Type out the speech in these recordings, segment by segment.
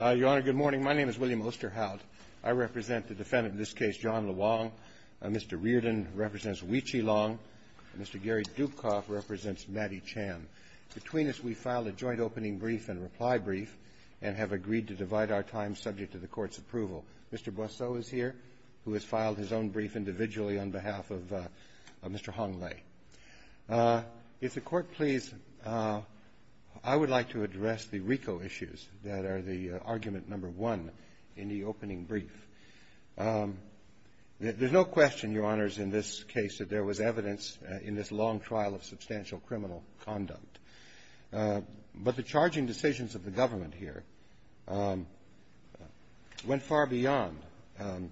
Your Honor, good morning. My name is William Osterhout. I represent the defendant in this case, John Luong. Mr. Reardon represents Wee-Chee Luong. Mr. Gary Dupkoff represents Natty Chan. Between us, we filed a joint opening brief and reply brief and have agreed to divide our time subject to the Court's approval. Mr. Brosseau is here, who has filed his own brief individually on behalf of Mr. Honglei. If the Court please, I would like to address the RICO issues that are the argument number one in the opening brief. There's no question, Your Honors, in this case, that there was evidence in this long trial of substantial criminal conduct. But the charging decisions of the government here went far beyond,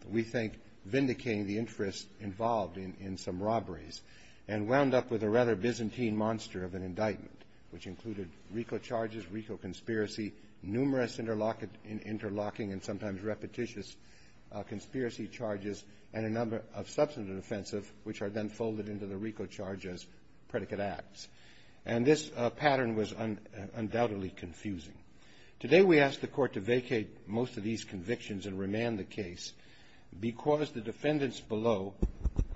we think, vindicating the interests involved in some robberies and wound up with a rather Byzantine monster of an indictment, which included RICO charges, RICO conspiracy, numerous interlocking and sometimes repetitious conspiracy charges, and a number of substantive offenses, which are then folded into the RICO charge as predicate acts. And this pattern was undoubtedly confusing. Today, we ask the Court to vacate most of these convictions and remand the case because the defendants below,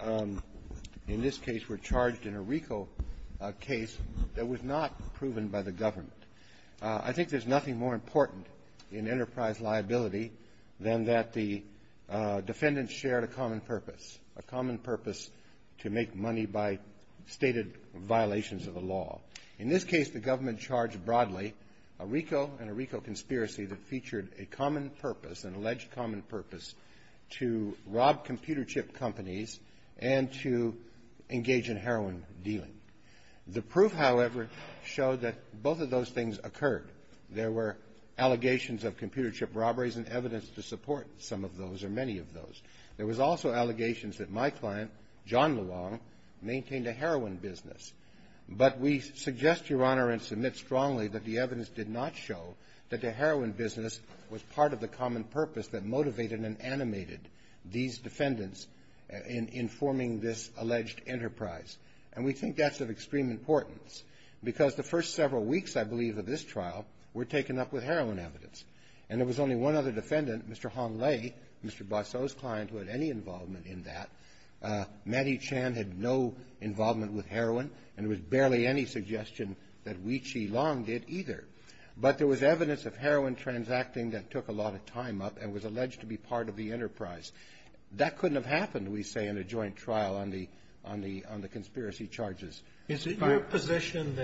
in this case, were charged in a RICO case that was not proven by the government. I think there's nothing more important in enterprise liability than that the defendants shared a common purpose, a common purpose to make money by stated violations of the law. In this case, the government charged broadly a RICO and a RICO conspiracy that featured a common purpose, an alleged common purpose, to rob computer chip companies and to engage in heroin dealing. The proof, however, showed that both of those things occurred. There were allegations of computer chip robberies and evidence to support some of those or many of those. There was also allegations that my client, John LeLong, maintained a heroin business. But we suggest, Your Honor, and submit strongly that the evidence did not show that the heroin business was part of the common purpose that motivated and animated these defendants in forming this alleged enterprise. And we think that's of extreme importance because the first several weeks, I believe, of this trial were taken up with heroin evidence. And there was only one other defendant, Mr. Hong Lei, Mr. Botso's client, who had any involvement in that. Manny Chan had no involvement with heroin and there was barely any suggestion that Wee Chi Long did either. But there was evidence of heroin transacting that took a lot of time up and was alleged to be part of the enterprise. That couldn't have happened, we say, in a joint trial on the conspiracy charges. Is it your position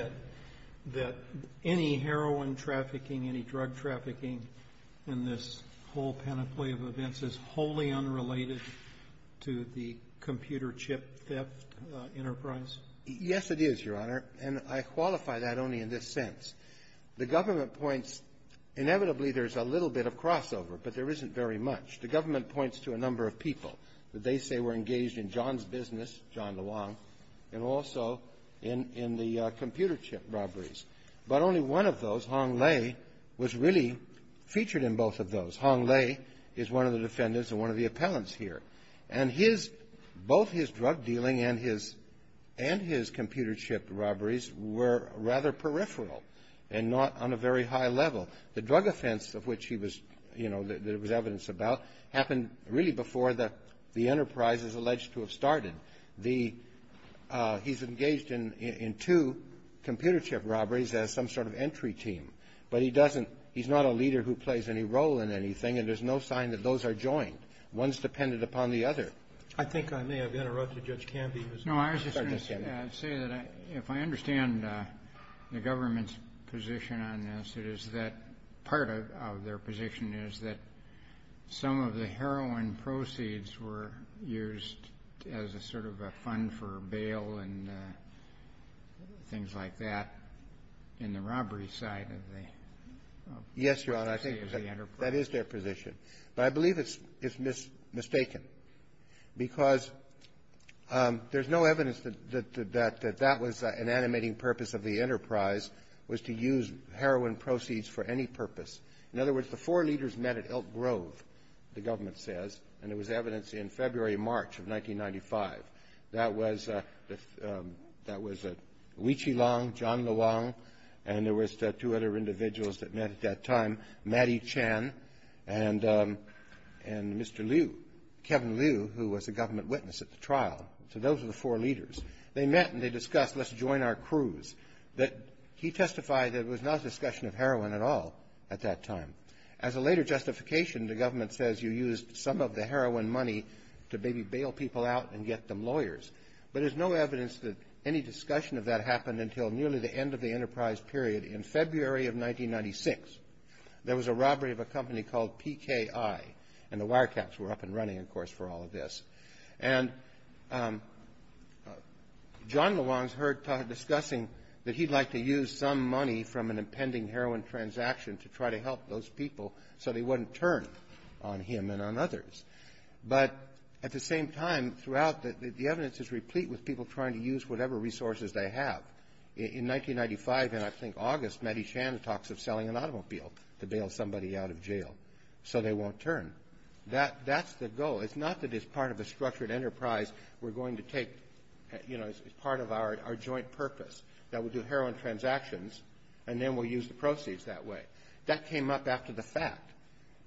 that any heroin trafficking, any drug trafficking, in this whole panoply of events, is wholly unrelated to the computer chip theft enterprise? Yes, it is, Your Honor, and I qualify that only in this sense. The government points... Inevitably, there's a little bit of crossover, but there isn't very much. The government points to a number of people that they say were engaged in John's business, John DeLong, and also in the computer chip robberies. But only one of those, Hong Lei, was really featured in both of those. Hong Lei is one of the defendants and one of the appellants here. And both his drug dealing and his computer chip robberies were rather peripheral and not on a very high level. The drug offense of which there was evidence about happened really before the enterprise is alleged to have started. He's engaged in two computer chip robberies as some sort of entry team. But he's not a leader who plays any role in anything, and there's no sign that those are joined. One's dependent upon the other. I think I may have interrupted Judge Campbell. No, I was just going to say that if I understand the government's position on this, it is that part of their position is that some of the heroin proceeds were used as a sort of a fund for bail and things like that in the robbery side of the enterprise. Yes, Your Honor, I think that is their position. But I believe it's mistaken, because there's no evidence that that was an animating purpose of the enterprise, was to use heroin proceeds for any purpose. In other words, the four leaders met at Elk Grove, the government says, and there was evidence in February and March of 1995. That was Wee Chi Long, John Le Wong, and there was two other individuals that met at that time, Mattie Chan and Mr. Liu, Kevin Liu, who was a government witness at the trial. So those were the four leaders. They met and they discussed, let's join our crews. He testified that it was not a discussion of heroin at all at that time. As a later justification, the government says you used some of the heroin money to maybe bail people out and get them lawyers. But there's no evidence that any discussion of that happened until nearly the end of the enterprise period in February of 1996. There was a robbery of a company called PKI, and the wiretaps were up and running, of course, for all of this. And John Le Wong is heard discussing that he'd like to use some money from an impending heroin transaction to try to help those people so they wouldn't turn on him and on others. But at the same time, throughout, the evidence is replete with people trying to use whatever resources they have. In 1995, and I think August, Mattie Shands talks of selling an automobile to bail somebody out of jail so they won't turn. That's the goal. It's not that as part of a structured enterprise, we're going to take, you know, as part of our joint purpose that we do heroin transactions and then we'll use the proceeds that way. That came up after the fact.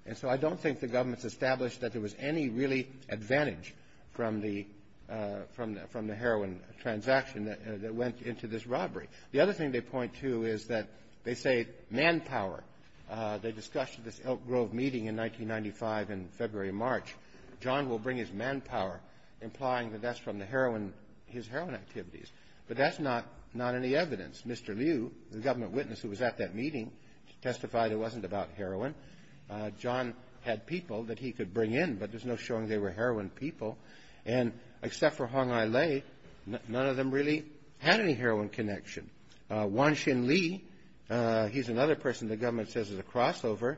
And so I don't think the government's established that there was any really advantage from the heroin transaction that went into this robbery. The other thing they point to is that they say manpower. They discussed this Elk Grove meeting in 1995 in February and March. John will bring his manpower, implying that that's from his heroin activities. But that's not any evidence. Mr. Liu, the government witness who was at that meeting, testified it wasn't about heroin. John had people that he could bring in, but there's no showing they were heroin people. And except for Hong Ai Lei, none of them really had any heroin connection. Wang Xin Li, he's another person the government says is a crossover.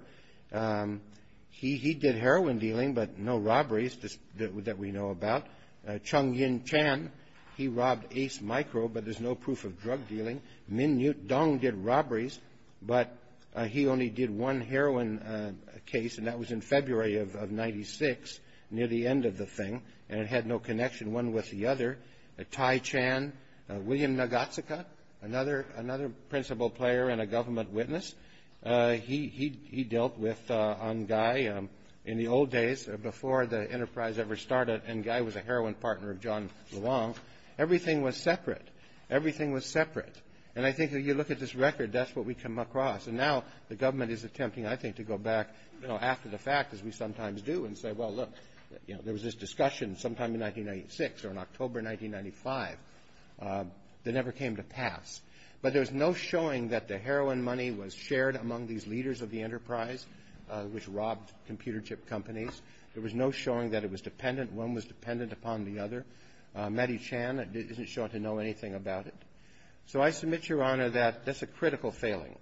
He did heroin dealing, but no robberies that we know about. Chung Yin Chan, he robbed Ace Micro, but there's no proof of drug dealing. Min Yut Dong did robberies, but he only did one heroin case, and that was in February of 1996, near the end of the thing, and it had no connection one with the other. Tai Chan, William Nagatsuka, another principal player and a government witness, he dealt with Hong Ai in the old days before the enterprise ever started, and Hong Ai was a heroin partner of John Luong. Everything was separate. Everything was separate. And I think if you look at this record, that's what we come across. And now the government is attempting, I think, to go back after the fact, as we sometimes do, and say, well, look, there was this discussion sometime in 1996 or in October 1995 that never came to pass. But there's no showing that the heroin money was shared among these leaders of the enterprise which robbed computer chip companies. There was no showing that it was dependent. One was dependent upon the other. Mattie Chan didn't show up to know anything about it. So I submit, Your Honor, that that's a critical failing.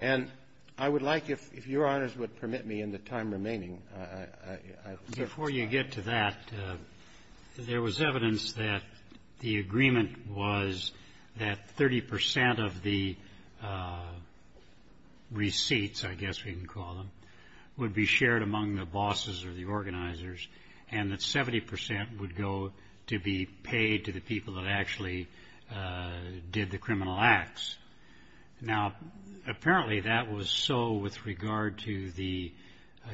And I would like, if Your Honors would permit me in the time remaining. Before you get to that, there was evidence that the agreement was that 30% of the receipts, I guess we can call them, would be shared among the bosses or the organizers and that 70% would go to be paid to the people that actually did the criminal acts. Now, apparently that was so with regard to the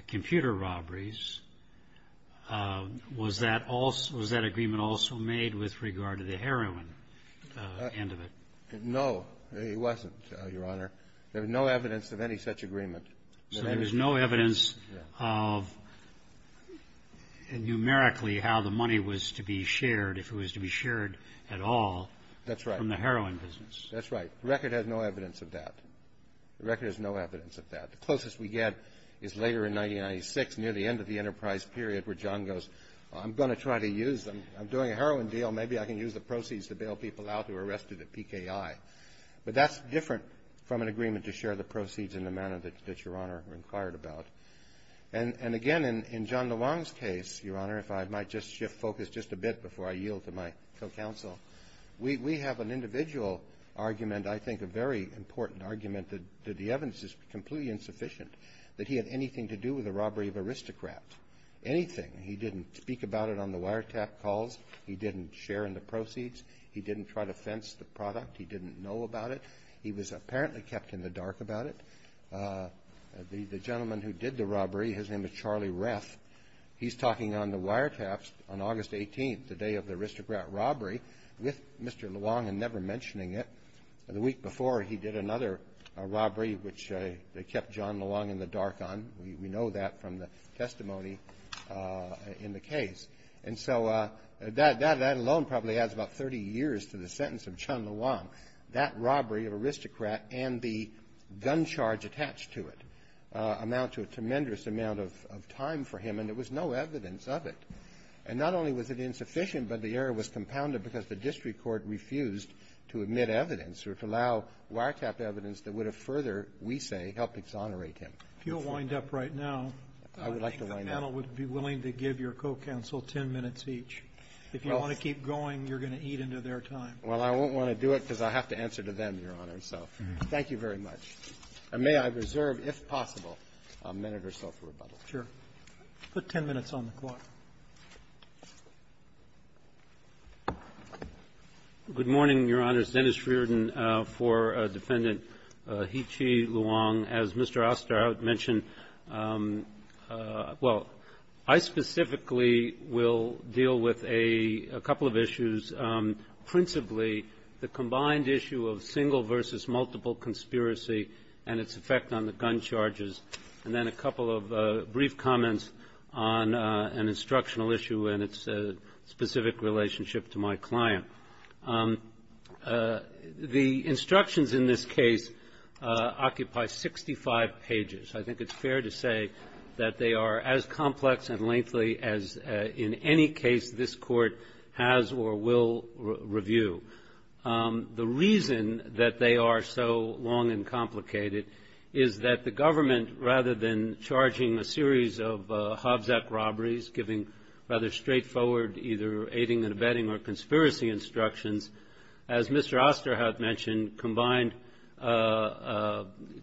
computer robberies. Was that agreement also made with regard to the heroin? No, it wasn't, Your Honor. There's no evidence of any such agreement. So there's no evidence of numerically how the money was to be shared if it was to be shared at all from the heroin business. That's right. The record has no evidence of that. The record has no evidence of that. The closest we get is later in 1996 near the end of the enterprise period where John goes, I'm going to try to use them. I'm doing a heroin deal. Maybe I can use the proceeds to bail people out who were arrested at PKI. But that's different from an agreement to share the proceeds in the manner that Your Honor inquired about. And again, in John DeLong's case, Your Honor, if I might just shift focus just a bit before I yield to my co-counsel, we have an individual argument, I think a very important argument, that the evidence is completely insufficient, that he had anything to do with the robbery of aristocrats, anything. He didn't speak about it on the wiretap calls. He didn't share in the proceeds. He didn't try to fence the product. He didn't know about it. He was apparently kept in the dark about it. The gentleman who did the robbery, his name is Charlie Reff, he's talking on the wiretaps on August 18th, the day of the aristocrat robbery with Mr. DeLong and never mentioning it. The week before he did another robbery which they kept John DeLong in the dark on. We know that from the testimony in the case. And so that alone probably adds about 30 years to the sentence of John DeLong. That robbery of aristocrats and the gun charge attached to it amounted to a tremendous amount of time for him and there was no evidence of it. And not only was it insufficient, but the error was compounded because the district court refused to admit evidence or to allow wiretap evidence that would have further, we say, helped exonerate him. If you don't wind up right now, I would like to wind up. The panel would be willing to give your co-counsel 10 minutes each. If you want to keep going, you're going to eat into their time. Well, I won't want to do it because I have to answer to them, Your Honor. So thank you very much. And may I reserve, if possible, a minute or so for rebuttal. Sure. Put 10 minutes on the clock. Good morning, Your Honors. Dennis Reardon for Dependent He Chi Luong. As Mr. Osterhout mentioned, well, I specifically will deal with a couple of issues, principally the combined issue of single versus multiple conspiracy and its effect on the gun charges, and then a couple of brief comments on an instructional issue and its specific relationship to my client. The instructions in this case occupy 65 pages. I think it's fair to say that they are as complex and lengthy as in any case this court has or will review. The reason that they are so long and complicated is that the government, rather than charging a series of Hobbs Act robberies, giving rather straightforward either aiding and abetting or conspiracy instructions, as Mr. Osterhout mentioned, combined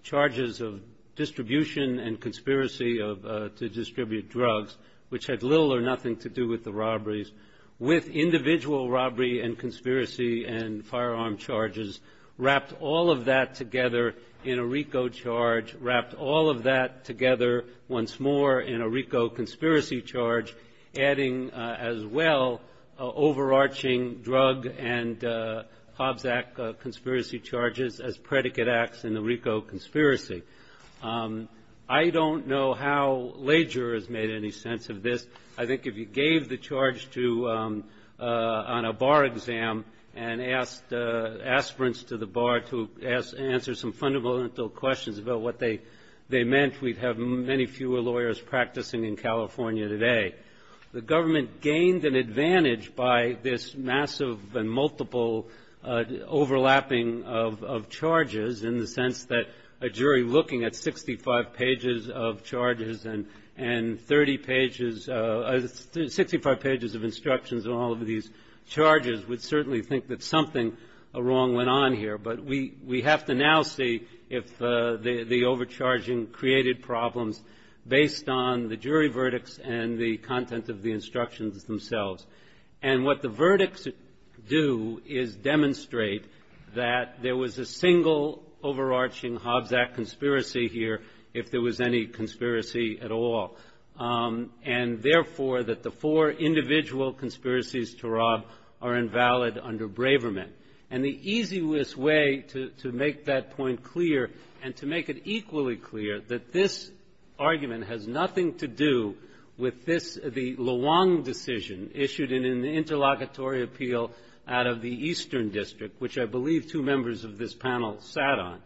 charges of distribution and conspiracy to distribute drugs, which had little or nothing to do with the robberies, with individual robbery and conspiracy and firearm charges, wrapped all of that together in a RICO charge, wrapped all of that together once more in a RICO conspiracy charge, adding as well overarching drug and Hobbs Act conspiracy charges as predicate acts in the RICO conspiracy. I don't know how Lager has made any sense of this. I think if you gave the charge on a bar exam and asked aspirants to the bar to answer some fundamental questions about what they meant, we'd have many fewer lawyers practicing in California today. The government gained an advantage by this massive and multiple overlapping of charges in the sense that a jury looking at 65 pages of charges and 30 pages, 65 pages of instructions on all of these charges would certainly think that something wrong went on here. But we have to now see if the overcharging created problems based on the jury verdicts and the content of the instructions themselves. And what the verdicts do is demonstrate that there was a single overarching Hobbs Act conspiracy here, if there was any conspiracy at all, and therefore that the four individual conspiracies to draw are invalid under Braverman. And the easiest way to make that point clear and to make it equally clear that this argument has nothing to do with the Luong decision issued in an interlocutory appeal out of the Eastern District, which I believe two members of this panel sat on,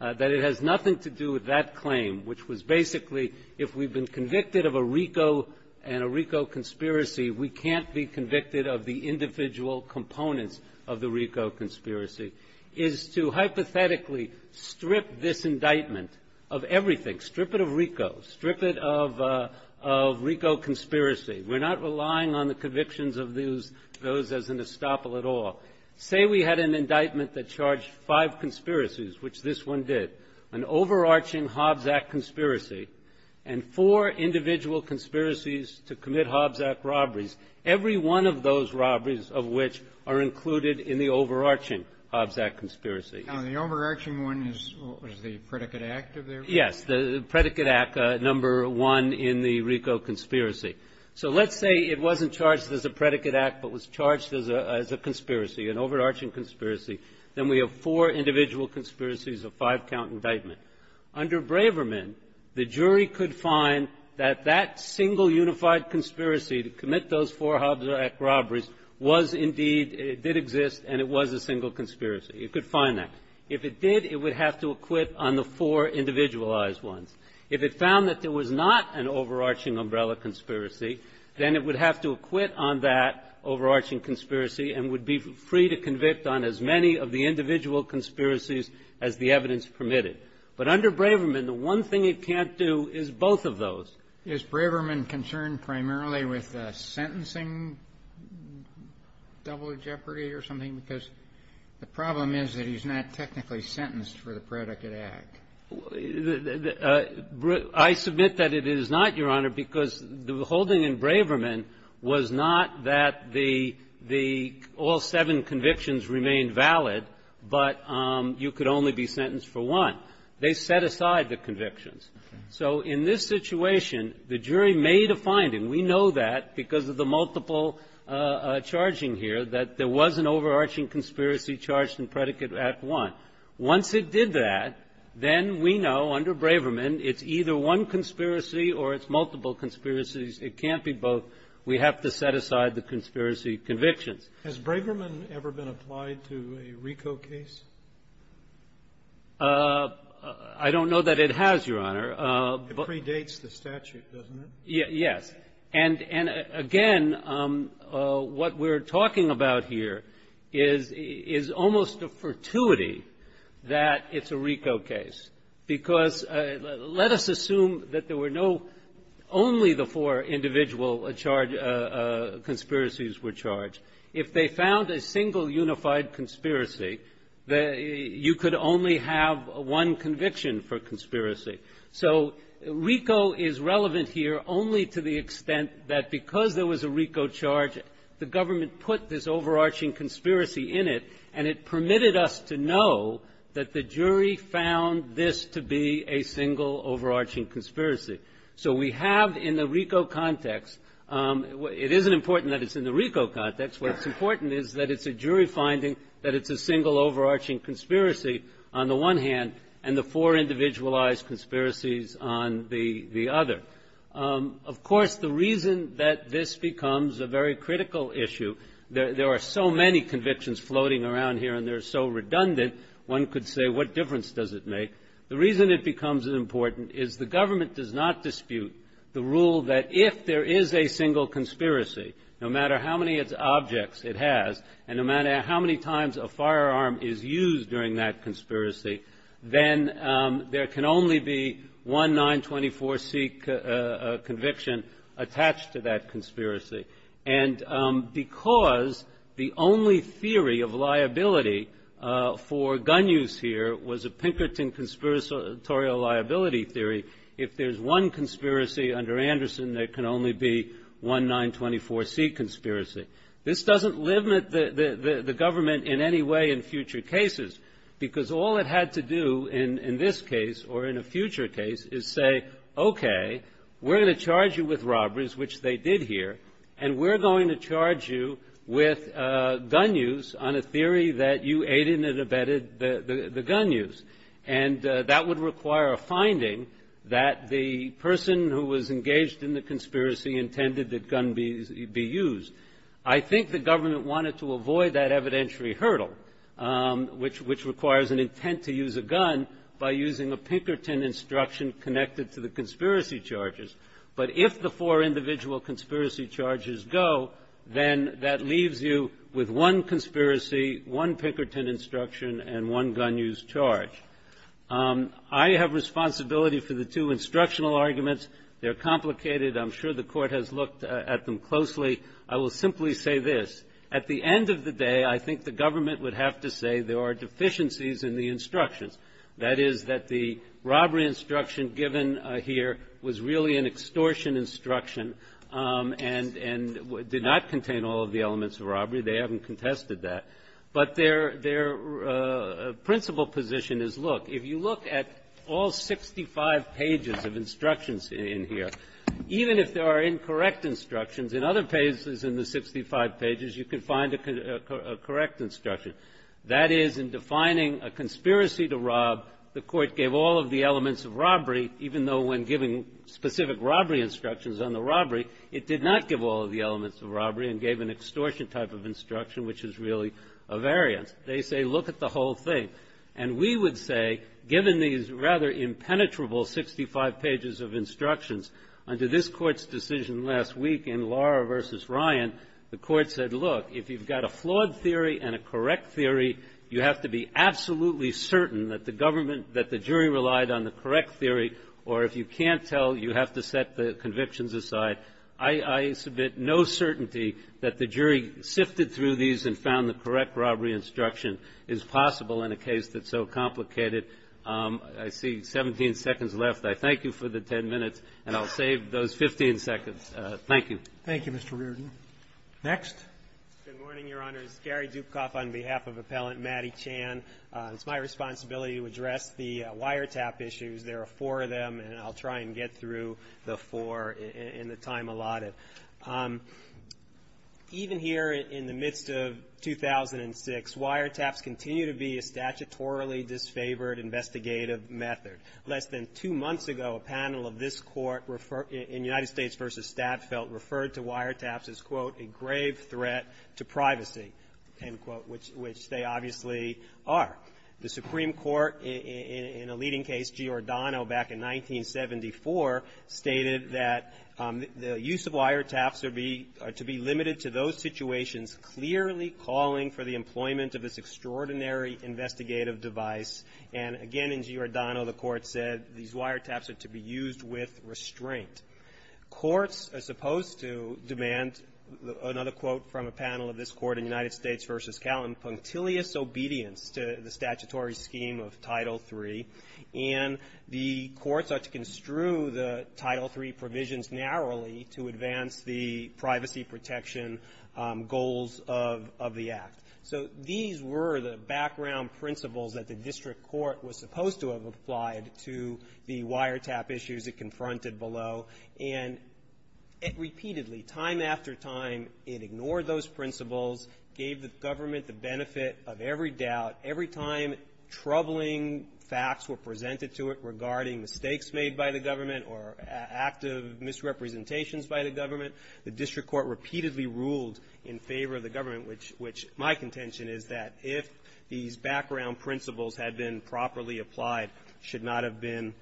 that it has nothing to do with that claim, which was basically if we've been convicted of a RICO and a RICO conspiracy, we can't be convicted of the individual components of the RICO conspiracy, is to hypothetically strip this indictment of everything. Strip it of RICO. Strip it of RICO conspiracy. We're not relying on the convictions of those as an estoppel at all. Say we had an indictment that charged five conspiracies, which this one did, an overarching Hobbs Act conspiracy, and four individual conspiracies to commit Hobbs Act robberies, every one of those robberies of which are included in the overarching Hobbs Act conspiracy. The overarching one is the Predicate Act. Yes, the Predicate Act, number one in the RICO conspiracy. So let's say it wasn't charged as a Predicate Act but was charged as a conspiracy, an overarching conspiracy, then we have four individual conspiracies of five count indictments. Under Braverman, the jury could find that that single unified conspiracy to commit those four Hobbs Act robberies was indeed, did exist, and it was a single conspiracy. It could find that. If it did, it would have to acquit on the four individualized ones. If it found that there was not an overarching Umbrella conspiracy, then it would have to acquit on that overarching conspiracy and would be free to convict on as many of the individual conspiracies as the evidence permitted. But under Braverman, the one thing it can't do is both of those. Is Braverman concerned primarily with the sentencing double jeopardy or something? Because the problem is that he's not technically sentenced for the Predicate Act. I submit that it is not, Your Honor, because the whole thing in Braverman was not that the all seven convictions remained valid, but you could only be sentenced for one. They set aside the convictions. So in this situation, the jury made a finding. We know that because of the multiple charging here that there was an overarching conspiracy charged in Predicate Act 1. Once it did that, then we know under Braverman it's either one conspiracy or it's multiple conspiracies. It can't be both. We have to set aside the conspiracy convictions. Has Braverman ever been applied to a RICO case? I don't know that it has, Your Honor. It predates the statute, doesn't it? Yes. And, again, what we're talking about here is almost a fortuity that it's a RICO case. Because let us assume that there were only the four individual conspiracies were charged. If they found a single unified conspiracy, you could only have one conviction for conspiracy. So RICO is relevant here only to the extent that because there was a RICO charge, the government put this overarching conspiracy in it, and it permitted us to know that the jury found this to be a single overarching conspiracy. So we have in the RICO context, it isn't important that it's in the RICO context. What's important is that it's a jury finding that it's a single overarching conspiracy on the one hand, and the four individualized conspiracies on the other. Of course, the reason that this becomes a very critical issue, there are so many convictions floating around here and they're so redundant, one could say what difference does it make. The reason it becomes important is the government does not dispute the rule that if there is a single conspiracy, no matter how many objects it has, and no matter how many times a firearm is used during that conspiracy, then there can only be one 924C conviction attached to that conspiracy. And because the only theory of liability for gun use here was a Pinkerton Conspiratorial Liability Theory, if there's one conspiracy under Anderson, there can only be one 924C conspiracy. This doesn't limit the government in any way in future cases, because all it had to do in this case or in a future case is say, okay, we're going to charge you with robberies, which they did here, and we're going to charge you with gun use on a theory that you aided and abetted the gun use. And that would require a finding that the person who was engaged in the conspiracy intended the gun be used. I think the government wanted to avoid that evidentiary hurdle, which requires an intent to use a gun by using a Pinkerton instruction connected to the conspiracy charges. But if the four individual conspiracy charges go, then that leaves you with one conspiracy, one Pinkerton instruction, and one gun use charge. I have responsibility for the two instructional arguments. They're complicated. I'm sure the Court has looked at them closely. I will simply say this. At the end of the day, I think the government would have to say there are deficiencies in the instruction, that is that the robbery instruction given here was really an extortion instruction and did not contain all of the elements of robbery. Obviously, they haven't contested that. But their principal position is, look, if you look at all 65 pages of instructions in here, even if there are incorrect instructions, in other pages in the 65 pages, you can find a correct instruction. That is, in defining a conspiracy to rob, the Court gave all of the elements of robbery, even though when giving specific robbery instructions on the robbery, it did not give all of the elements of robbery and gave an extortion type of instruction, which is really a variant. They say, look at the whole thing. And we would say, given these rather impenetrable 65 pages of instructions, under this Court's decision last week in Lara v. Ryan, the Court said, look, if you've got a flawed theory and a correct theory, you have to be absolutely certain that the government, that the jury relied on the correct theory, or if you can't tell, you have to set the convictions aside. I submit no certainty that the jury sifted through these and found the correct robbery instruction is possible in a case that's so complicated. I see 17 seconds left. I thank you for the 10 minutes, and I'll save those 15 seconds. Thank you. Thank you, Mr. Reardon. Next. Good morning, Your Honor. It's Gary Dukov on behalf of Appellant Matty Chan. It's my responsibility to address the wiretap issues. There are four of them, and I'll try and get through the four in the time allotted. Even here in the midst of 2006, wiretaps continue to be a statutorily disfavored investigative method. Less than two months ago, a panel of this Court in United States v. Statsvelt referred to wiretaps as, quote, a grave threat to privacy, end quote, which they obviously are. The Supreme Court, in a leading case, Giordano, back in 1974, stated that the use of wiretaps are to be limited to those situations clearly calling for the employment of this extraordinary investigative device. And again, in Giordano, the Court said these wiretaps are to be used with restraint. Courts are supposed to demand, another quote from a panel of this Court in United States v. Calton, punctilious obedience to the statutory scheme of Title III. And the courts are to construe the Title III provisions narrowly to advance the privacy protection goals of the Act. So these were the background principles that the district court was supposed to have applied to the wiretap issues it confronted below. And repeatedly, time after time, it ignored those principles, gave the government the benefit of every doubt. Every time troubling facts were presented to it regarding mistakes made by the government or active misrepresentations by the government, the district court repeatedly ruled in favor of the government, which my contention is that if these background principles had been properly applied, should not have been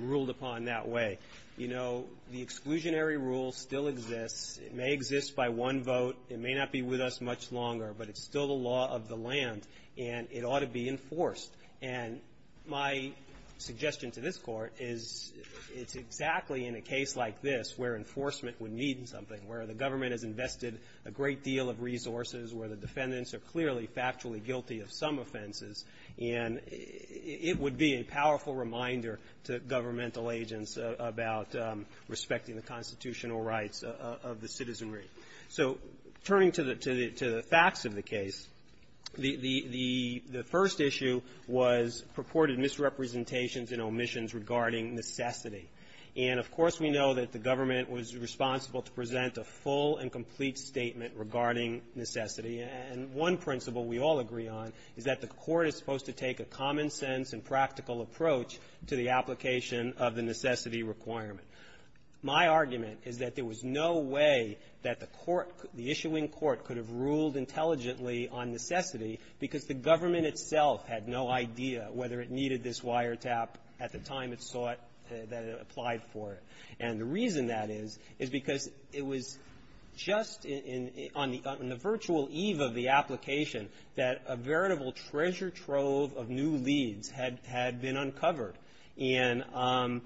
ruled upon that way. You know, the exclusionary rule still exists. It may exist by one vote. It may not be with us much longer, but it's still the law of the land, and it ought to be enforced. And my suggestion to this Court is it's exactly in a case like this where enforcement would need something, where the government has invested a great deal of resources, where the defendants are clearly factually guilty of some offenses, and it would be a powerful reminder to governmental agents about respecting the constitutional rights of the citizenry. So turning to the facts of the case, the first issue was purported misrepresentations and omissions regarding necessity. And of course we know that the government was responsible to present a full and complete statement regarding necessity, and one principle we all agree on is that the Court is supposed to take a common sense and practical approach to the application of the necessity requirement. My argument is that there was no way that the Court, the issuing Court, could have ruled intelligently on necessity because the government itself had no idea whether it needed this wiretap at the time it saw it, that it applied for it. And the reason that is is because it was just on the virtual eve of the application that a veritable treasure trove of new leads had been uncovered. And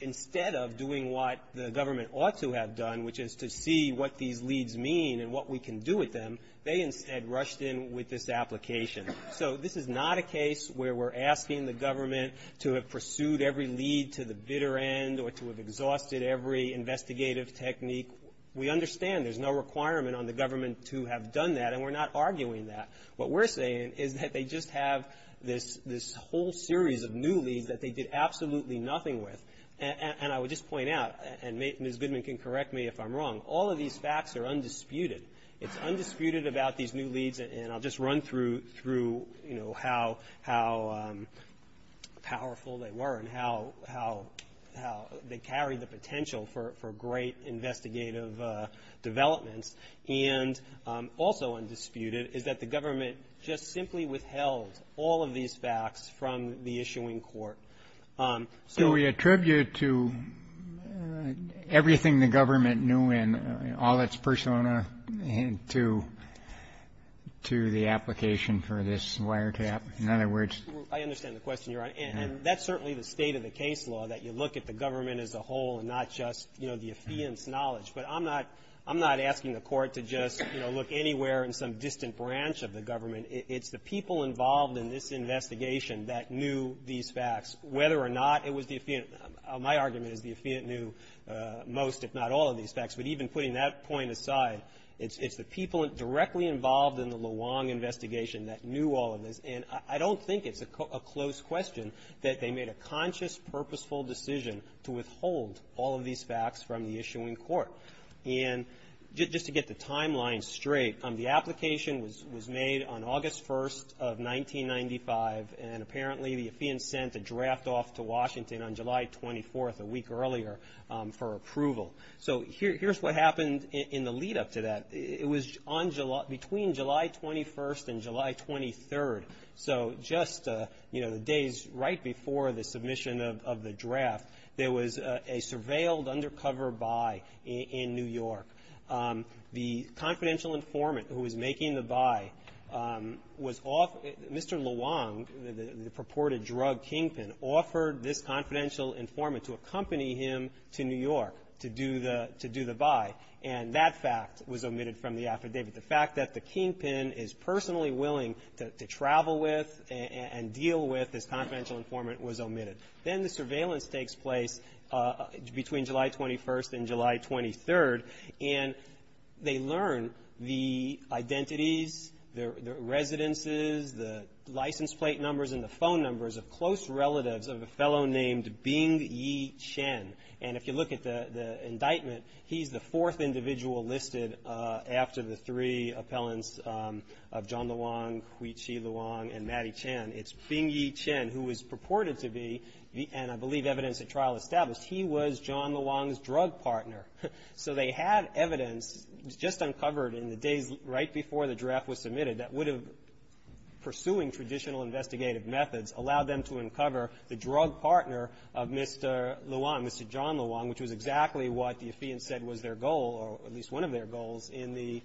instead of doing what the government ought to have done, which is to see what these leads mean and what we can do with them, they instead rushed in with this application. So this is not a case where we're asking the government to have pursued every lead to the bitter end or to have exhausted every investigative technique. We understand there's no requirement on the government to have done that, and we're not arguing that. What we're saying is that they just have this whole series of new leads that they did absolutely nothing with. And I would just point out, and Ms. Goodman can correct me if I'm wrong, all of these facts are undisputed. It's undisputed about these new leads, and I'll just run through how powerful they were and how they carry the potential for great investigative development. And also undisputed is that the government just simply withheld all of these facts from the issuing court. So we attribute to everything the government knew and all its persona to the application for this wiretap? In other words? I understand the question, Your Honor. And that's certainly the state of the case law, that you look at the government as a whole and not just, you know, the Atheist's knowledge. But I'm not asking the court to just, you know, look anywhere in some distant branch of the government. It's the people involved in this investigation that knew these facts, whether or not it was the Atheist. My argument is the Atheist knew most, if not all, of these facts. But even putting that point aside, it's the people directly involved in the Luong investigation that knew all of this. And I don't think it's a close question that they made a conscious, purposeful decision to withhold all of these facts from the issuing court. And just to get the timeline straight, the application was made on August 1st of 1995, and apparently the Atheist sent a draft off to Washington on July 24th, a week earlier, for approval. So here's what happened in the lead-up to that. It was between July 21st and July 23rd. So just, you know, the days right before the submission of the draft, there was a surveilled, undercover buy in New York. The confidential informant who was making the buy was off... Mr. Luong, the purported drug kingpin, offered this confidential informant to accompany him to New York to do the buy. And that fact was omitted from the affidavit. The fact that the kingpin is personally willing to travel with and deal with this confidential informant was omitted. Then the surveillance takes place between July 21st and July 23rd, and they learn the identities, the residences, the license plate numbers, and the phone numbers of close relatives of a fellow named Bing-Yi Shen. And if you look at the indictment, he's the fourth individual listed after the three appellants of John Luong, Hui-Chi Luong, and Mattie Chen. It's Bing-Yi Shen who was purported to be, and I believe evidence at trial established, he was John Luong's drug partner. So they had evidence just uncovered in the days right before the draft was submitted that would have, pursuing traditional investigative methods, allowed them to uncover the drug partner of Mr. Luong, Mr. John Luong, which was exactly what the affidavit said was their goal, or at least one of their goals, in the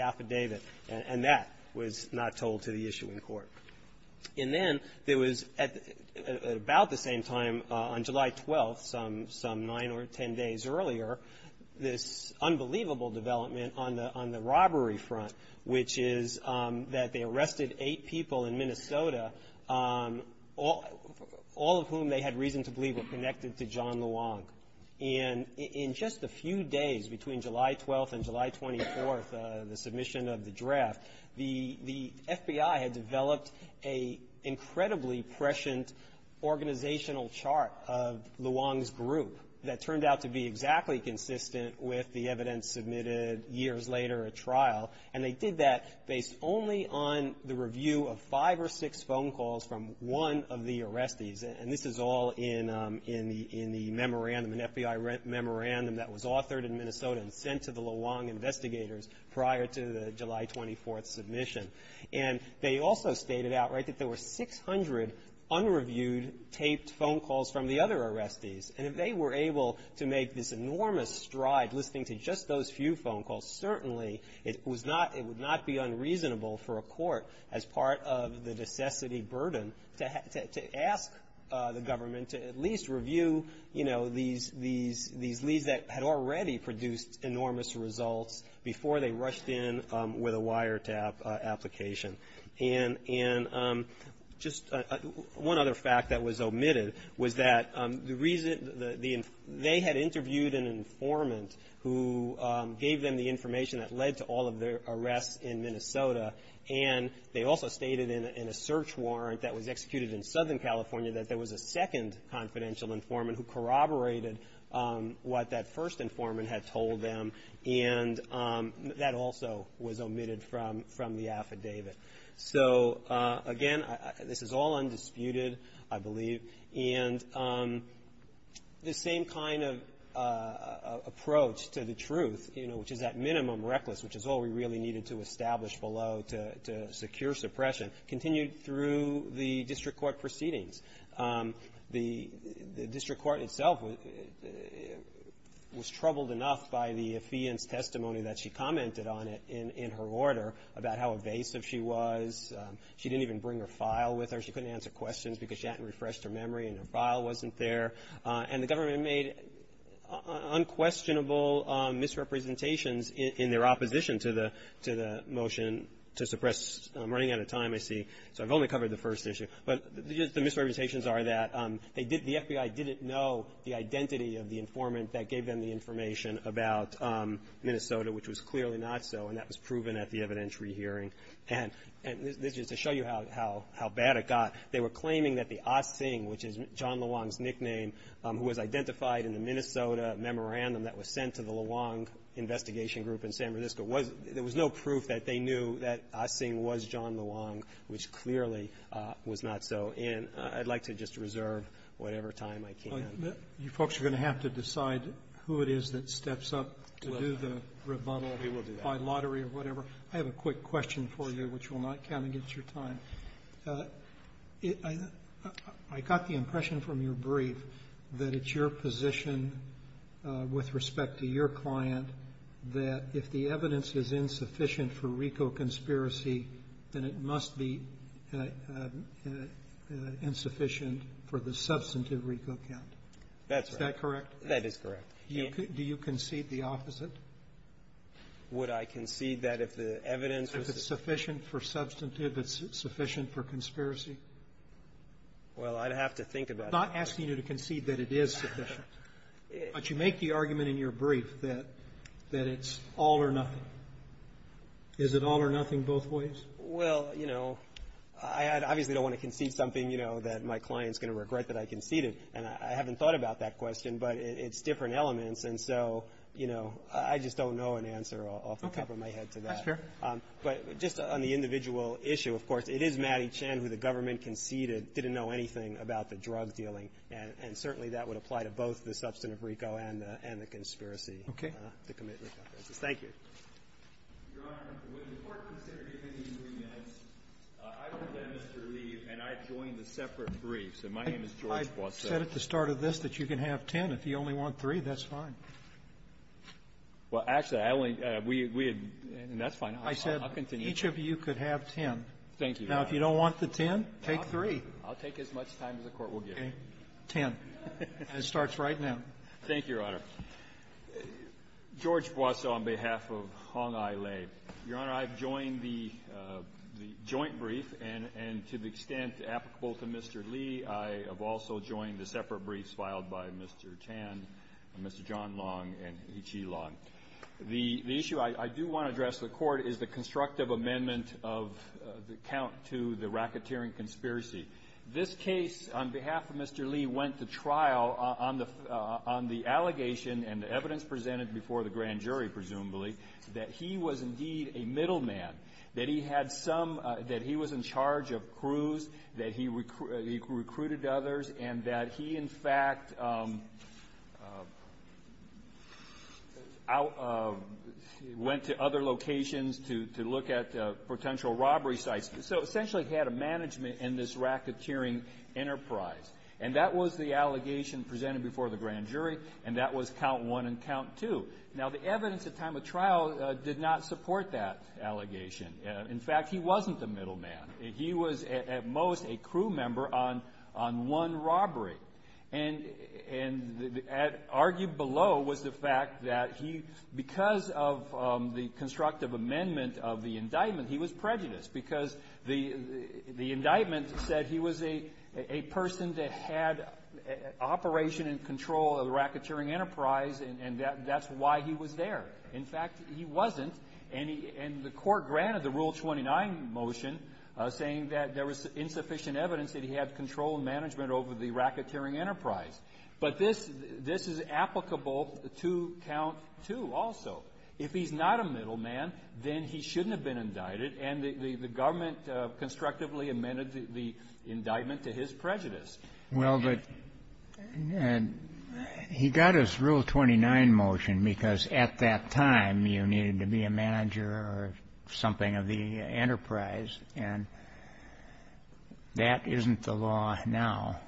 affidavit. And that was not told to the issuing court. And then there was, at about the same time, on July 12th, some nine or ten days earlier, this unbelievable development on the robbery front, which is that they arrested eight people in Minnesota, all of whom they had reason to believe were connected to John Luong. And in just a few days between July 12th and July 24th, the submission of the draft, the FBI had developed an incredibly prescient organizational chart of Luong's group that turned out to be exactly consistent with the evidence submitted years later at trial. And they did that based only on the review of five or six phone calls from one of the arrestees. And this is all in the memorandum, an FBI memorandum that was authored in Minnesota and sent to the Luong investigators prior to the July 24th submission. And they also stated outright that there were 600 unreviewed taped phone calls from the other arrestees. And if they were able to make this enormous stride listening to just those few phone calls, certainly it would not be unreasonable for a court, as part of the necessity burden, to ask the government to at least review, you know, these leads that had already produced enormous results before they rushed in with a wiretap application. And just one other fact that was omitted was that they had interviewed an informant who gave them the information that led to all of their arrests in Minnesota. And they also stated in a search warrant that was executed in Southern California that there was a second confidential informant who corroborated what that first informant had told them. And that also was omitted from the affidavit. So, again, this is all undisputed, I believe. And the same kind of approach to the truth, you know, which is that minimum reckless, which is all we really needed to establish below to secure suppression, continued through the district court proceedings. The district court itself was troubled enough by the affiant testimony that she commented on it in her order about how evasive she was. She didn't even bring her file with her. She couldn't answer questions because she hadn't refreshed her memory and her file wasn't there. And the government made unquestionable misrepresentations in their opposition to the motion to suppress. I'm running out of time, I see. So I've only covered the first issue. But the misrepresentations are that the FBI didn't know the identity of the informant that gave them the information about Minnesota, which was clearly not so, and that was proven at the evidentiary hearing. And just to show you how bad it got, they were claiming that the Ah Sing, which is John Luong's nickname who was identified in the Minnesota memorandum that was sent to the Luong investigation group in San Francisco, there was no proof that they knew that Ah Sing was John Luong, which clearly was not so. And I'd like to just reserve whatever time I can. You folks are going to have to decide who it is that steps up to do the rebuttal by lottery or whatever. I have a quick question for you, which will not come against your time. I got the impression from your brief that it's your position with respect to your client that if the evidence is insufficient for RICO conspiracy, then it must be insufficient for the substantive RICO count. That's right. Is that correct? That is correct. Do you concede the opposite? Would I concede that if the evidence is sufficient for substantive, it's sufficient for conspiracy? Well, I'd have to think about that. I'm not asking you to concede that it is sufficient. But you make the argument in your brief that it's all or nothing. Is it all or nothing both ways? Well, you know, I obviously don't want to concede something, you know, that my client's going to regret that I conceded. And I haven't thought about that question, but it's different elements. And so, you know, I just don't know an answer. I'll cover my head for that. That's fair. But just on the individual issue, of course, it is Mattie Chan who the government conceded didn't know anything about the drug dealing. And certainly that would apply to both the substantive RICO and the conspiracy. Okay. Thank you. Your Honor, it was important that there be at least three minutes. I will let Mr. Reed and I join the separate briefs. And my name is George Plotkin. I said at the start of this that you can have ten. If you only want three, that's fine. Well, actually, I only – and that's fine. I'll continue. I said each of you could have ten. Thank you. Now, if you don't want the ten, take three. I'll take as much time as the Court will give. Ten. It starts right now. Thank you, Your Honor. George Plotkin on behalf of Hong Ai Lei. Your Honor, I've joined the joint brief. And to the extent applicable to Mr. Lee, I have also joined the separate briefs filed by Mr. Tan, Mr. John Long, and H.E. Long. The issue I do want to address to the Court is the constructive amendment of the count to the racketeering conspiracy. This case, on behalf of Mr. Lee, went to trial on the allegation and the evidence presented before the grand jury, presumably, that he was indeed a middleman, that he had some – that he was in charge of crews, that he recruited others, and that he, in fact, went to other locations to look at potential robbery sites. So, essentially, he had a management in this racketeering enterprise. And that was the allegation presented before the grand jury, and that was count one and count two. Now, the evidence at time of trial did not support that allegation. In fact, he wasn't the middleman. He was, at most, a crew member on one robbery. And argued below was the fact that he, because of the constructive amendment of the indictment, he was prejudiced because the indictment said he was a person that had operation and control of the racketeering enterprise, and that's why he was there. In fact, he wasn't. And the court granted the Rule 29 motion saying that there was insufficient evidence that he had control and management over the racketeering enterprise. But this is applicable to count two also. If he's not a middleman, then he shouldn't have been indicted, and the government constructively amended the indictment to his prejudice. Well, but he got his Rule 29 motion because at that time you needed to be a manager or something of the enterprise, and that isn't the law now,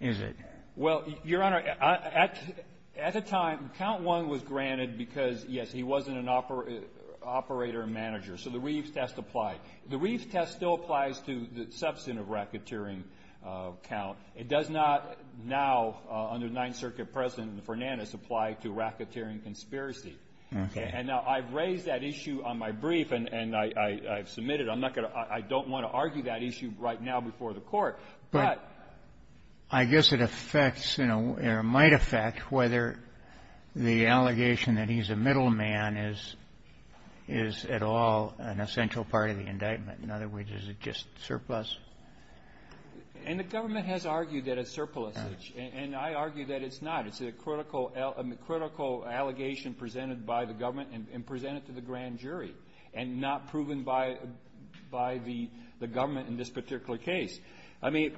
is it? Well, Your Honor, at the time, count one was granted because, yes, he wasn't an operator and manager, so the Reeves test applied. The Reeves test still applies to the substantive racketeering count. It does not now, under Ninth Circuit President Fernandez, apply to racketeering conspiracy. And now I've raised that issue on my brief and I've submitted it. I don't want to argue that issue right now before the court. But I guess it might affect whether the allegation that he's a middleman is at all an essential part of the indictment. In other words, is it just surplus? And the government has argued that it's surplus, and I argue that it's not. It's a critical allegation presented by the government and presented to the grand jury and not proven by the government in this particular case. I mean,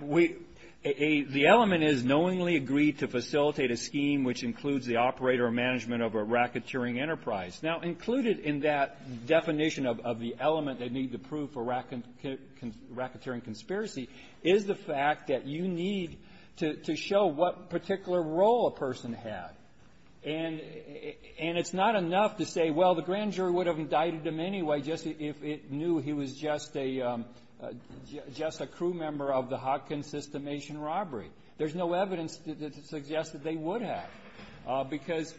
the element is knowingly agreed to facilitate a scheme which includes the operator or management of a racketeering enterprise. Now, included in that definition of the element they need to prove for racketeering conspiracy is the fact that you need to show what particular role a person has. And it's not enough to say, well, the grand jury would have indicted him anyway if it knew he was just a crew member of the Hopkins systemation robbery. There's no evidence to suggest that they would have. Because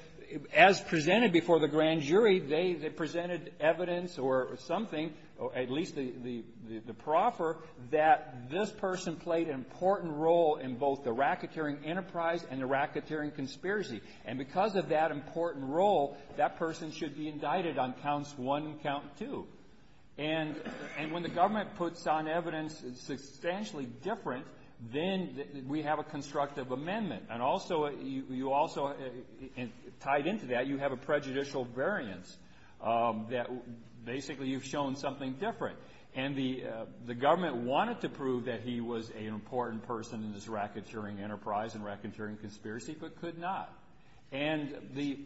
as presented before the grand jury, they presented evidence or something, or at least the proffer, that this person played an important role in both the racketeering enterprise and the racketeering conspiracy. And because of that important role, that person should be indicted on counts one and count two. And when the government puts down evidence that's substantially different, then we have a constructive amendment. And also, tied into that, you have a prejudicial variance that basically you've shown something different. And the government wanted to prove that he was an important person in this racketeering enterprise and racketeering conspiracy, but could not. And the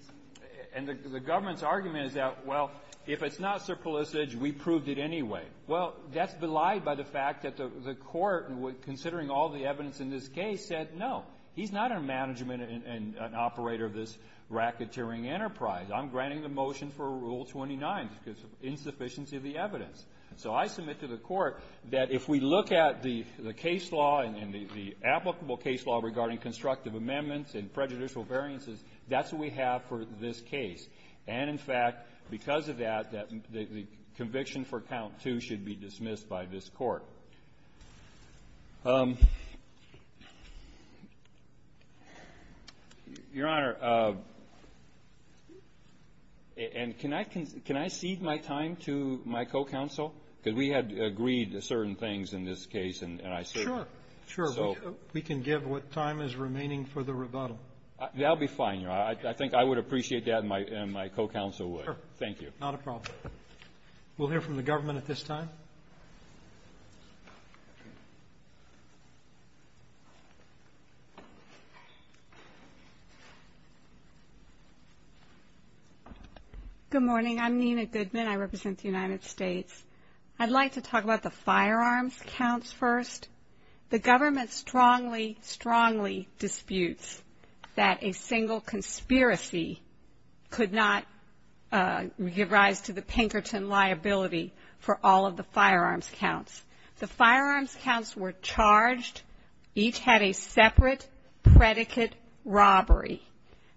government's argument is that, well, if it's not surplusage, we proved it anyway. Well, that's belied by the fact that the court, considering all the evidence in this case, said no. He's not a management and an operator of this racketeering enterprise. I'm granting the motion for Rule 29, the insufficiency of the evidence. So I submit to the court that if we look at the case law and the applicable case law regarding constructive amendments and prejudicial variances, that's what we have for this case. And, in fact, because of that, the conviction for count two should be dismissed by this court. Your Honor, can I cede my time to my co-counsel? Because we had agreed to certain things in this case. Sure. We can give what time is remaining for the rebuttal. That would be fine, Your Honor. I think I would appreciate that, and my co-counsel would. Thank you. Not a problem. We'll hear from the government at this time. Thank you. Good morning. I'm Nina Goodman. I represent the United States. I'd like to talk about the firearms counts first. The government strongly, strongly disputes that a single conspiracy could not give rise to the Pinkerton liability for all of the firearms counts. The firearms counts were charged. Each had a separate predicate robbery.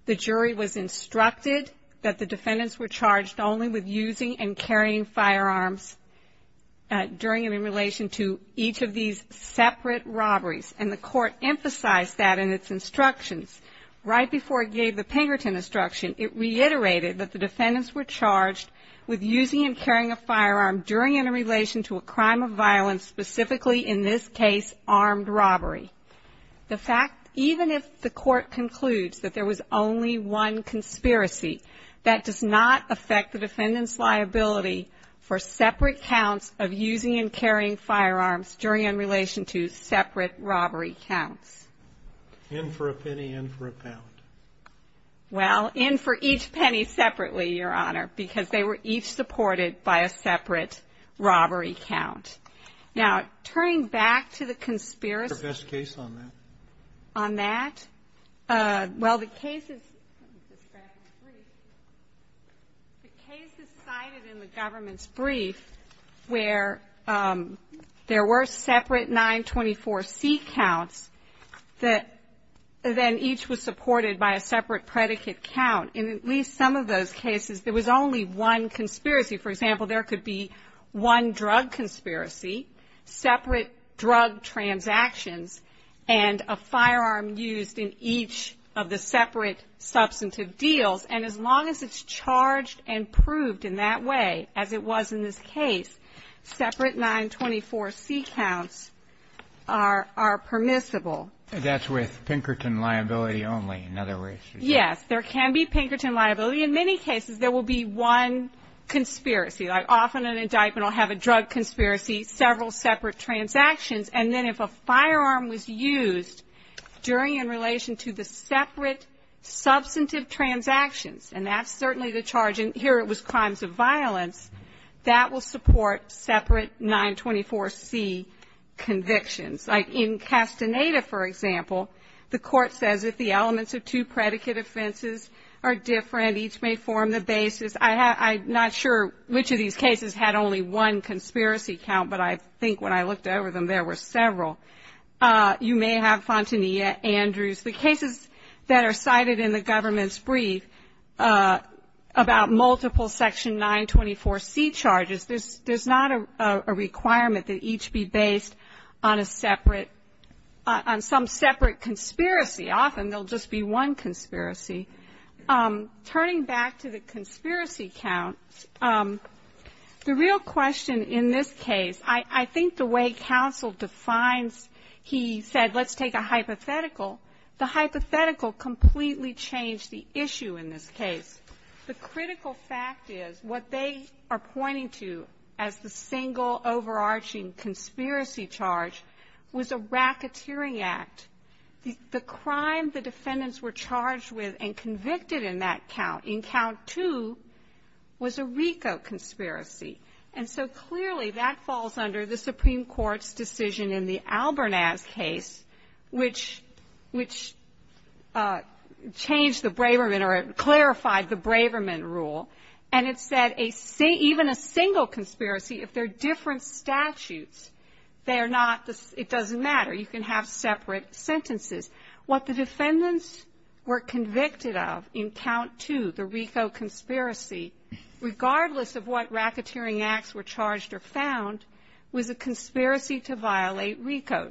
The jury was instructed that the defendants were charged only with using and carrying firearms during and in relation to each of these separate robberies, and the court emphasized that in its instructions. Right before it gave the Pinkerton instruction, it reiterated that the defendants were charged with using and carrying a firearm during and in relation to a crime of violence, specifically in this case, armed robbery. The fact, even if the court concludes that there was only one conspiracy, that does not affect the defendant's liability for separate counts of using and carrying firearms during and in relation to separate robbery counts. In for a penny, in for a pound. Well, in for each penny separately, Your Honor, because they were each supported by a separate robbery count. Now, turning back to the conspiracy. What's the best case on that? On that? Well, the case is cited in the government's brief where there were separate 924C counts that then each was supported by a separate predicate count. In at least some of those cases, there was only one conspiracy. For example, there could be one drug conspiracy, separate drug transactions, and a firearm used in each of the separate substantive deals. And as long as it's charged and proved in that way, as it was in this case, separate 924C counts are permissible. That's with Pinkerton liability only, in other words. Yes. There can be Pinkerton liability. In many cases, there will be one conspiracy. Often an indictment will have a drug conspiracy, several separate transactions, and then if a firearm was used during and in relation to the separate substantive transactions, and that's certainly the charge, and here it was crimes of violence, that will support separate 924C convictions. Like in Castaneda, for example, the court says if the elements of two predicate offenses are different, each may form the basis. I'm not sure which of these cases had only one conspiracy count, but I think when I looked over them, there were several. You may have Fontanilla, Andrews. The cases that are cited in the government's brief about multiple Section 924C charges, there's not a requirement that each be based on some separate conspiracy. Often there will just be one conspiracy. Turning back to the conspiracy count, the real question in this case, I think the way counsel defines, he said let's take a hypothetical. The hypothetical completely changed the issue in this case. The critical fact is what they are pointing to as the single overarching conspiracy charge was a racketeering act. The crime the defendants were charged with and convicted in that count, in count two, was a RICO conspiracy. And so clearly that falls under the Supreme Court's decision in the Albernaz case, which changed the Braverman or clarified the Braverman rule. And it said even a single conspiracy, if they're different statutes, it doesn't matter. You can have separate sentences. What the defendants were convicted of in count two, the RICO conspiracy, regardless of what racketeering acts were charged or found, was a conspiracy to violate RICO.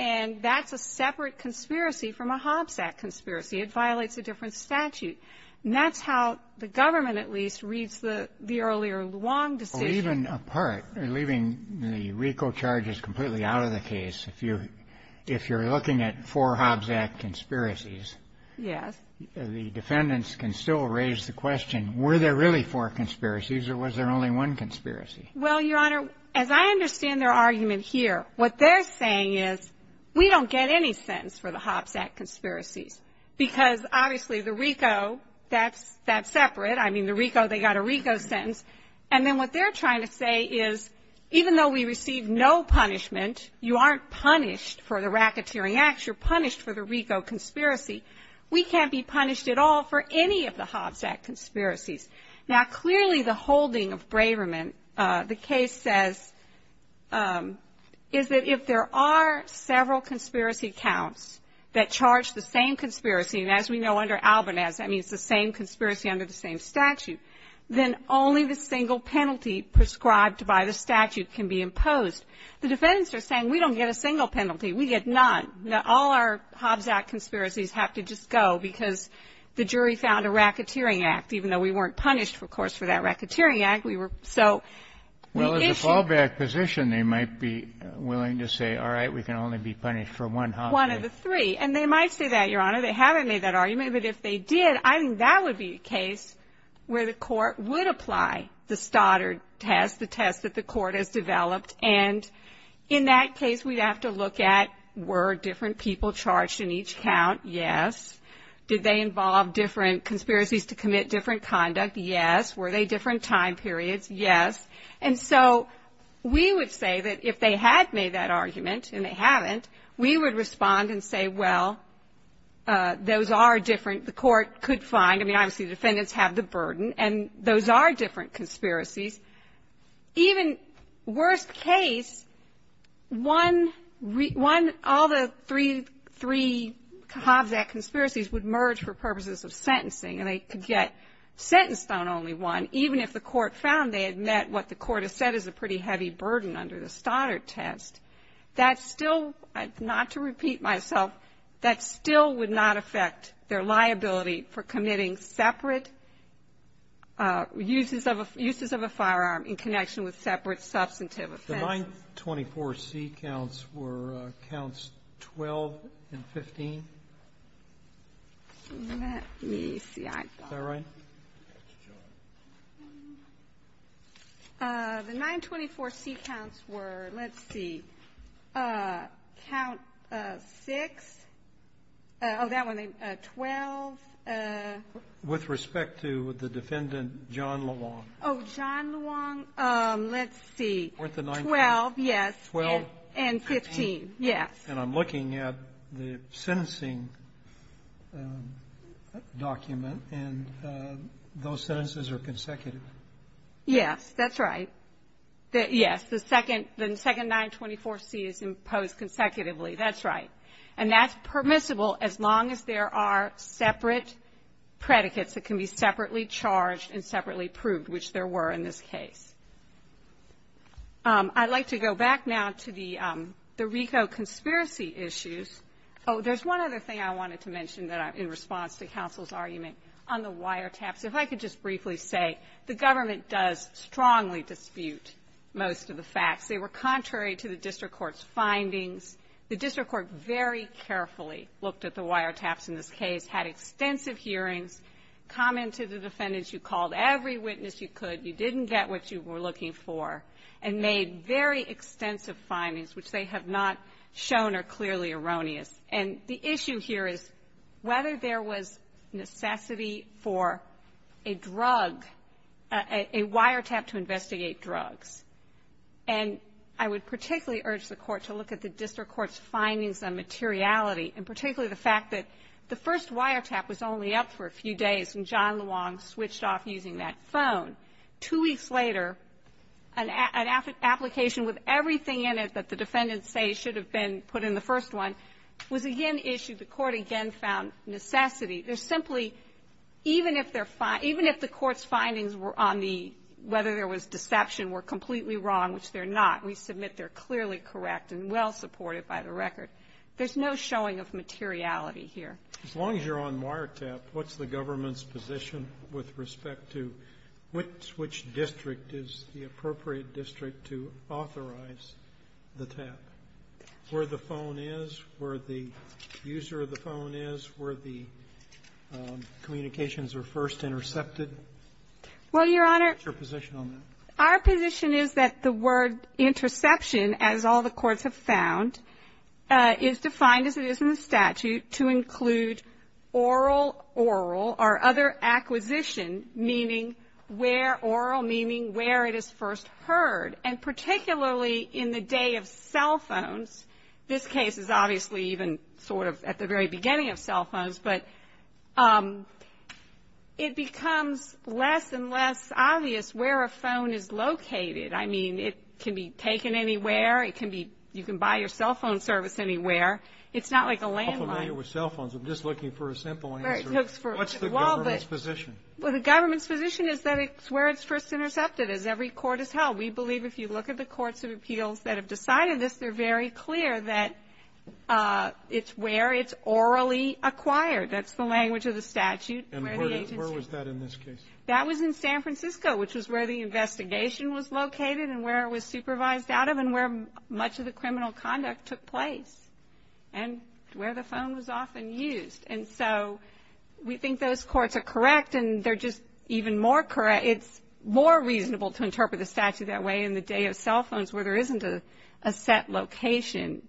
And that's a separate conspiracy from a Hobbs Act conspiracy. It violates a different statute. And that's how the government, at least, reads the earlier Luong decision. Even apart, leaving the RICO charges completely out of the case, if you're looking at four Hobbs Act conspiracies, the defendants can still raise the question, were there really four conspiracies or was there only one conspiracy? Well, Your Honor, as I understand their argument here, what they're saying is we don't get any sentence for the Hobbs Act conspiracy because obviously the RICO, that's separate. I mean, the RICO, they got a RICO sentence. And then what they're trying to say is even though we receive no punishment, you aren't punished for the racketeering acts. You're punished for the RICO conspiracy. We can't be punished at all for any of the Hobbs Act conspiracies. Now, clearly, the holding of Braverman, the case says, is that if there are several conspiracy counts that charge the same conspiracy, and as we know under Albanaz, that means the same conspiracy under the same statute, then only the single penalty prescribed by the statute can be imposed. The defendants are saying we don't get a single penalty. We get none. All our Hobbs Act conspiracies have to just go because the jury found a racketeering act, even though we weren't punished, of course, for that racketeering act. Well, as a fallback position, they might be willing to say, all right, we can only be punished for one Hobbs Act. One of the three. And they might say that, Your Honor. They haven't made that argument. But if they did, I think that would be a case where the court would apply the Stoddard test, the test that the court has developed, and in that case we'd have to look at, were different people charged in each count? Yes. Did they involve different conspiracies to commit different conduct? Yes. Were they different time periods? Yes. And so we would say that if they had made that argument, and they haven't, we would respond and say, well, those are different. The court could find, I mean, obviously the defendants have the burden, and those are different conspiracies. Even worst case, one, all the three Hobbs Act conspiracies would merge for purposes of sentencing and they could get sentenced on only one, even if the court found they had met what the court had said is a pretty heavy burden under the Stoddard test. That still, not to repeat myself, that still would not affect their liability for committing separate uses of a firearm in connection with separate substantive offense. The 924C counts were counts 12 and 15? Let me see. Is that right? The 924C counts were, let's see, count six, oh, that one, 12. With respect to the defendant, John Luong. Oh, John Luong. Let's see. With the 924. 12, yes. 12. And 15, yes. And I'm looking at the sentencing document and those sentences are consecutive. Yes, that's right. Yes, the second 924C is imposed consecutively. That's right. And that's permissible as long as there are separate predicates that can be separately charged and separately proved, which there were in this case. I'd like to go back now to the RICO conspiracy issues. Oh, there's one other thing I wanted to mention in response to counsel's argument on the wiretaps. If I could just briefly say the government does strongly dispute most of the facts. They were contrary to the district court's findings. The district court very carefully looked at the wiretaps in this case, had extensive hearings, commented to the defendants. You called every witness you could. You didn't get what you were looking for. And made very extensive findings, which they have not shown are clearly erroneous. And the issue here is whether there was necessity for a drug, a wiretap to investigate drugs. And I would particularly urge the court to look at the district court's findings on materiality, and particularly the fact that the first wiretap was only up for a few days and John Long switched off using that phone. Two weeks later, an application with everything in it that the defendants say should have been put in the first one, was again issued. The court again found necessity. There's simply, even if the court's findings on whether there was deception were completely wrong, which they're not. We submit they're clearly correct and well supported by the record. There's no showing of materiality here. As long as you're on wiretap, what's the government's position with respect to which district is the appropriate district to authorize the tap? Where the phone is, where the user of the phone is, where the communications are first intercepted? Well, Your Honor, our position is that the word interception, as all the courts have found, is defined as it is in the statute to include oral, oral, or other acquisition, meaning where oral, meaning where it is first heard. And particularly in the day of cell phones, this case is obviously even sort of at the very beginning of cell phones, but it becomes less and less obvious where a phone is located. I mean, it can be taken anywhere. You can buy your cell phone service anywhere. It's not like a landline. I'm not familiar with cell phones. I'm just looking for a simple answer. What's the government's position? Well, the government's position is that it's where it's first intercepted, as every court has held. We believe if you look at the courts of appeals that have decided this, they're very clear that it's where it's orally acquired. That's the language of the statute. And where was that in this case? That was in San Francisco, which was where the investigation was located and where it was supervised out of and where much of the criminal conduct took place and where the phone was often used. And so we think those courts are correct, and they're just even more correct. It's more reasonable to interpret the statute that way in the day of cell phones where there isn't a set location.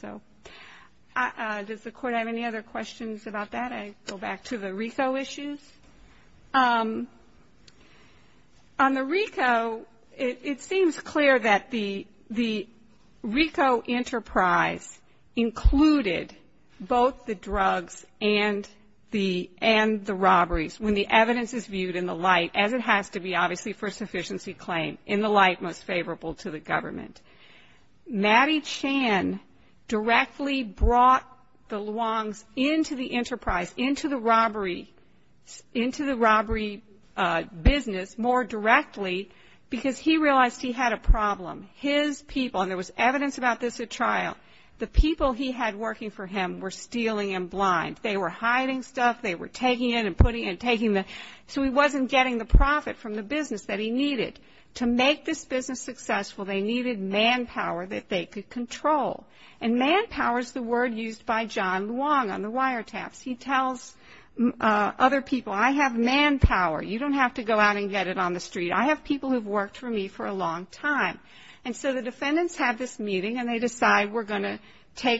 So does the court have any other questions about that? I'll go back to the RICO issues. On the RICO, it seems clear that the RICO enterprise included both the drugs and the robberies, when the evidence is viewed in the light, as it has to be, obviously, for sufficiency claim, in the light most favorable to the government. Mattie Chan directly brought the Luongs into the enterprise, into the robbery business more directly because he realized he had a problem. His people, and there was evidence about this at trial, the people he had working for him were stealing and blind. They were hiding stuff. They were taking it and putting it and taking it. So he wasn't getting the profit from the business that he needed. To make this business successful, they needed manpower that they could control. And manpower is the word used by John Luong on the wiretaps. He tells other people, I have manpower. You don't have to go out and get it on the street. I have people who have worked for me for a long time. And so the defendants have this meeting, and they decide we're going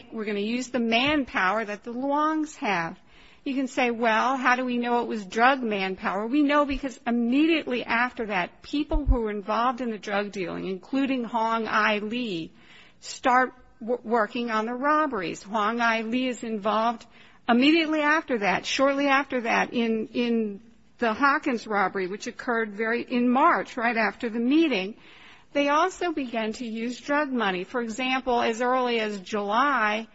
to use the manpower that the Luongs have. You can say, well, how do we know it was drug manpower? We know because immediately after that, people who were involved in the drug dealing, including Hong Ai Lee, start working on the robberies. Hong Ai Lee is involved immediately after that, shortly after that, in the Hawkins robbery, which occurred in March, right after the meeting. They also began to use drug money. For example, as early as July,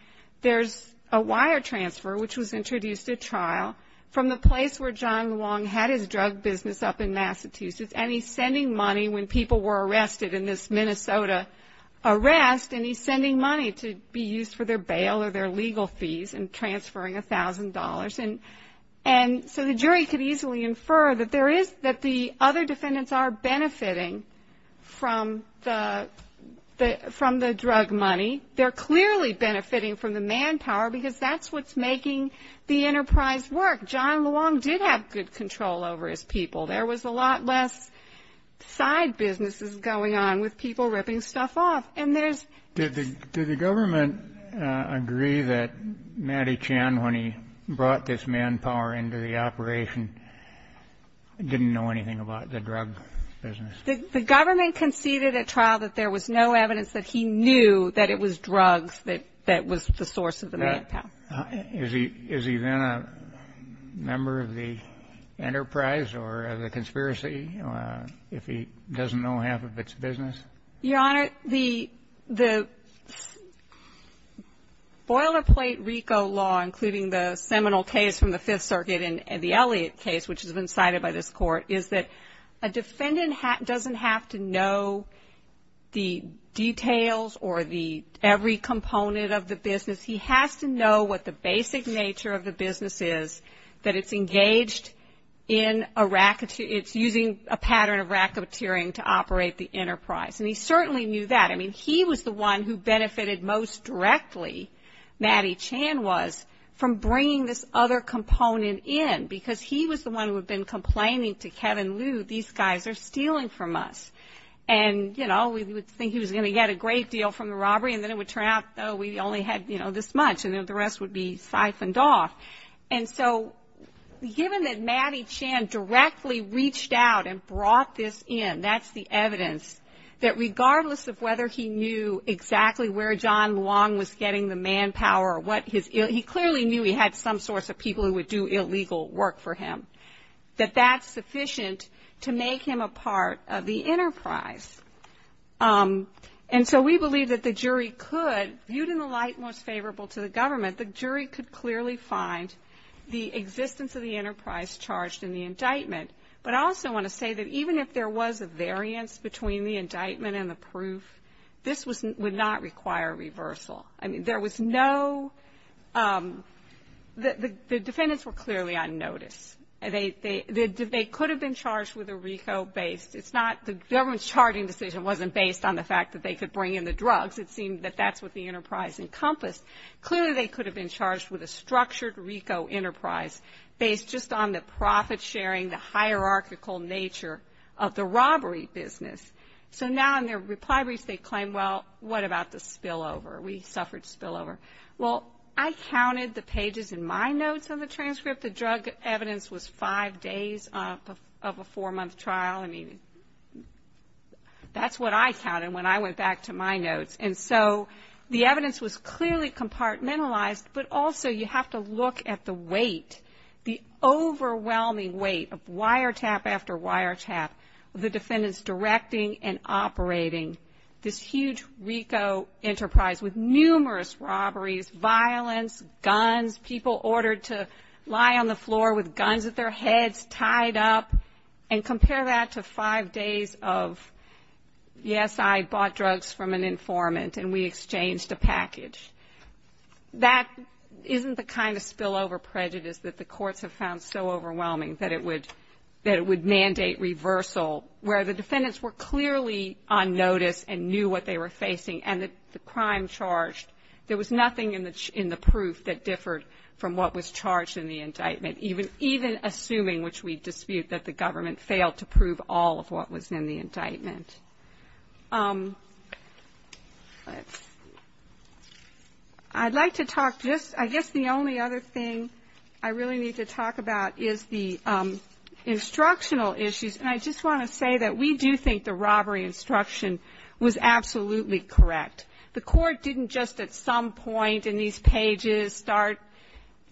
there's a wire transfer, which was introduced at trial, from the place where John Luong had his drug business up in Massachusetts. And he's sending money when people were arrested in this Minnesota arrest, and he's sending money to be used for their bail or their legal fees and transferring $1,000. And so the jury could easily infer that the other defendants are benefiting from the drug money. They're clearly benefiting from the manpower because that's what's making the enterprise work. John Luong did have good control over his people. There was a lot less side businesses going on with people ripping stuff off. Did the government agree that Mattie Chan, when he brought this manpower into the operation, didn't know anything about the drug business? The government conceded at trial that there was no evidence that he knew that it was drugs that was the source of the manpower. Is he then a member of the enterprise or a conspiracy if he doesn't know half of its business? Your Honor, the boilerplate RICO law, including the seminal case from the Fifth Circuit and the Elliott case, which has been cited by this Court, is that a defendant doesn't have to know the details or every component of the business. He has to know what the basic nature of the business is, that it's engaged in a racketeering, it's using a pattern of racketeering to operate the enterprise. And he certainly knew that. I mean, he was the one who benefited most directly, Mattie Chan was, from bringing this other component in, because he was the one who had been complaining to Kevin Lu, these guys are stealing from us. And, you know, we would think he was going to get a great deal from the robbery, and then it would turn out, oh, we only had, you know, this much, and then the rest would be siphoned off. And so given that Mattie Chan directly reached out and brought this in, that's the evidence, that regardless of whether he knew exactly where John Luong was getting the manpower, he clearly knew he had some source of people who would do illegal work for him, that that's sufficient to make him a part of the enterprise. And so we believe that the jury could, viewed in the light most favorable to the government, the jury could clearly find the existence of the enterprise charged in the indictment. But I also want to say that even if there was a variance between the indictment and the proof, this would not require reversal. I mean, there was no, the defendants were clearly unnoticed. They could have been charged with a RICO-based, it's not, the government's charging decision wasn't based on the fact that they could bring in the drugs, it seemed that that's what the enterprise encompassed. Clearly they could have been charged with a structured RICO enterprise, based just on the profit-sharing, the hierarchical nature of the robbery business. So now in their reply brief they claim, well, what about the spillover? We suffered spillover. Well, I counted the pages in my notes of the transcript. The drug evidence was five days of a four-month trial. I mean, that's what I counted when I went back to my notes. And so the evidence was clearly compartmentalized, but also you have to look at the weight, the overwhelming weight of wiretap after wiretap of the defendants directing and operating this huge RICO enterprise with numerous robberies, violence, guns, people ordered to lie on the floor with guns at their heads, tied up, and compare that to five days of, yes, I bought drugs from an informant and we exchanged a package. That isn't the kind of spillover prejudice that the courts have found so overwhelming, that it would mandate reversal, where the defendants were clearly on notice and knew what they were facing and the crime charged. There was nothing in the proof that differed from what was charged in the indictment, even assuming, which we dispute, that the government failed to prove all of what was in the indictment. I'd like to talk just, I guess the only other thing I really need to talk about is the instructional issues. And I just want to say that we do think the robbery instruction was absolutely correct. The court didn't just at some point in these pages start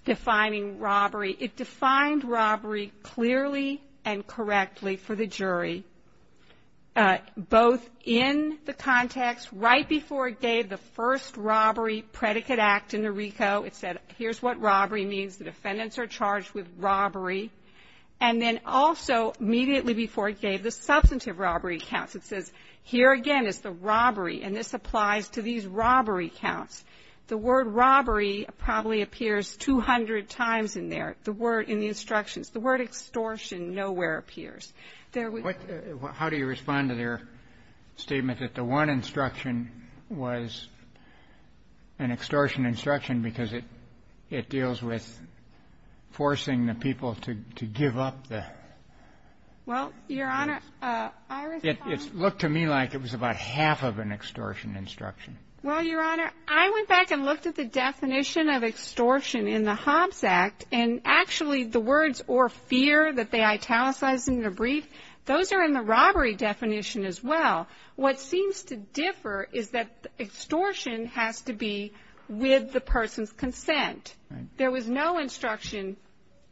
defining robbery. It defined robbery clearly and correctly for the jury, both in the context, right before it gave the first robbery predicate act in the RICO. It said, here's what robbery means. The defendants are charged with robbery. And then also immediately before it gave the substantive robbery counts, it says, here again is the robbery, and this applies to these robbery counts. The word robbery probably appears 200 times in there, in the instructions. The word extortion nowhere appears. How do you respond to their statement that the one instruction was an extortion instruction because it deals with forcing the people to give up the... Well, Your Honor, I respond... It looked to me like it was about half of an extortion instruction. Well, Your Honor, I went back and looked at the definition of extortion in the Hobbs Act and actually the words or fear that they italicized in the brief, those are in the robbery definition as well. What seems to differ is that extortion has to be with the person's consent. There was no instruction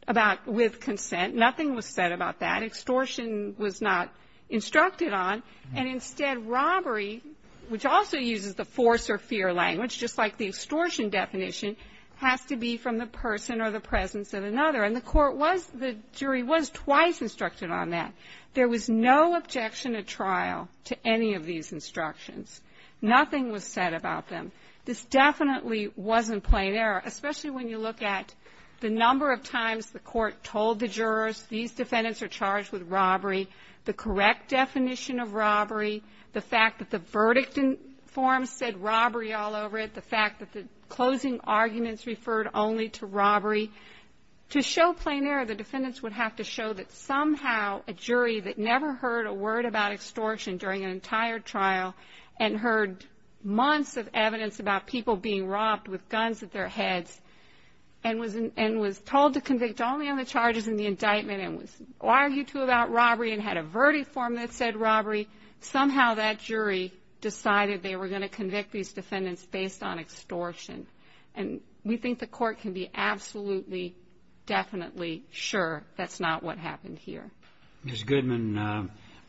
about with consent. Nothing was said about that. Extortion was not instructed on. And instead, robbery, which also uses the force or fear language, just like the extortion definition, has to be from the person or the presence of another. And the jury was twice instructed on that. There was no objection at trial to any of these instructions. Nothing was said about them. This definitely wasn't plain error, especially when you look at the number of times the court told the jurors, these defendants are charged with robbery, the correct definition of robbery, the fact that the verdict form said robbery all over it, the fact that the closing arguments referred only to robbery. To show plain error, the defendants would have to show that somehow a jury that never heard a word about extortion during an entire trial and heard months of evidence about people being robbed with guns at their heads and was told to convict only on the charges in the indictment and was argued to about robbery and had a verdict form that said robbery, somehow that jury decided they were going to convict these defendants based on extortion. And we think the court can be absolutely, definitely sure that's not what happened here. Ms. Goodman,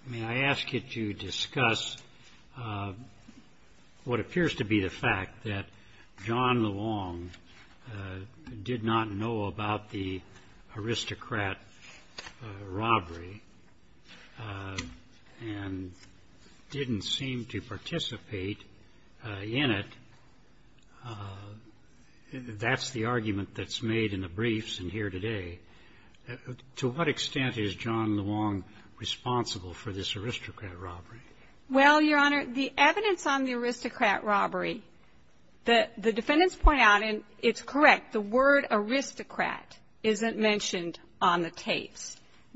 may I ask you to discuss what appears to be the fact that John Long did not know about the aristocrat robbery and didn't seem to participate in it. That's the argument that's made in the briefs in here today. To what extent is John Long responsible for this aristocrat robbery? Well, Your Honor, the evidence on the aristocrat robbery, the defendants point out and it's correct, the word aristocrat isn't mentioned on the tape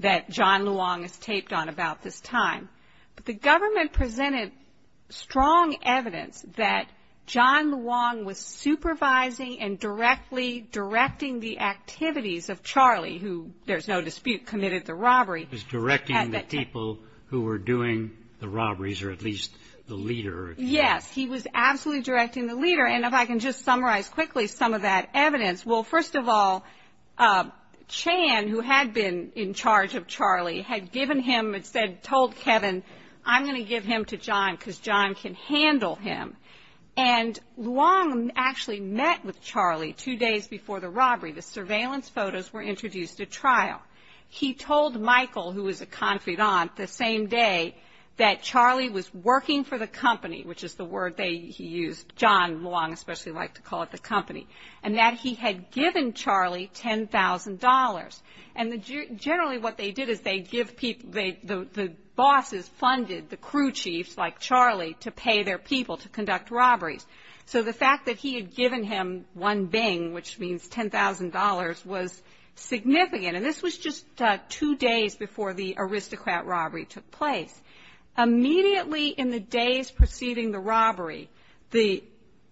that John Long is taped on about this time. The government presented strong evidence that John Long was supervising and directly directing the activities of Charlie who, there's no dispute, committed the robbery. He was directing the people who were doing the robberies or at least the leader. Yes, he was absolutely directing the leader. And if I can just summarize quickly some of that evidence. Well, first of all, Chan, who had been in charge of Charlie, had given him, had told Kevin, I'm going to give him to John because John can handle him. And Long actually met with Charlie two days before the robbery. The surveillance photos were introduced at trial. He told Michael, who was a confidante, the same day that Charlie was working for the company, which is the word that he used, John Long especially liked to call it the company, and that he had given Charlie $10,000. And generally what they did is they give people, the bosses funded the crew chiefs like Charlie to pay their people to conduct robberies. So the fact that he had given him one bing, which means $10,000, was significant. And this was just two days before the aristocrat robbery took place. Immediately in the days preceding the robbery,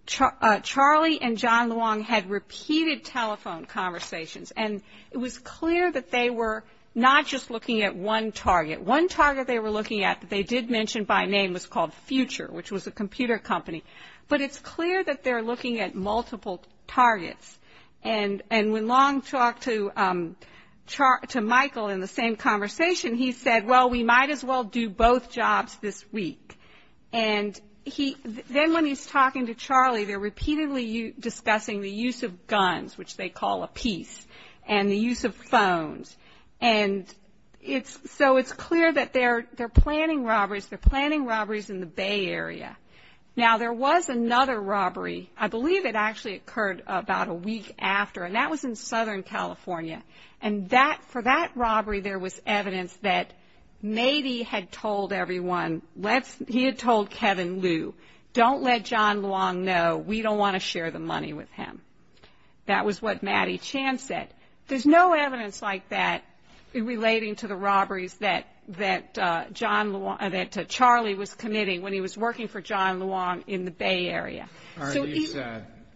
Charlie and John Long had repeated telephone conversations. And it was clear that they were not just looking at one target. One target they were looking at that they did mention by name was called Future, which was a computer company. But it's clear that they're looking at multiple targets. And when Long talked to Michael in the same conversation, he said, well, we might as well do both jobs this week. And then when he's talking to Charlie, they're repeatedly discussing the use of guns, which they call a piece, and the use of phones. And so it's clear that they're planning robberies. They're planning robberies in the Bay Area. Now, there was another robbery. I believe it actually occurred about a week after, and that was in Southern California. And for that robbery there was evidence that Mady had told everyone, he had told Kevin Liu, don't let John Long know, we don't want to share the money with him. That was what Maddy Chan said. There's no evidence like that relating to the robberies that Charlie was committing when he was working for John Long in the Bay Area.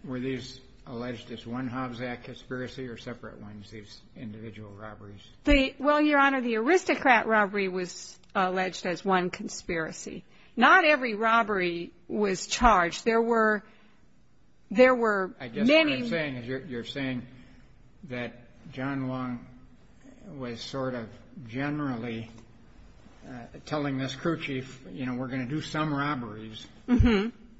Were these alleged as one Hobbs Act conspiracy or separate ones, these individual robberies? Well, Your Honor, the aristocrat robbery was alleged as one conspiracy. Not every robbery was charged. I guess what you're saying is you're saying that John Long was sort of generally telling his crew chief, you know, we're going to do some robberies.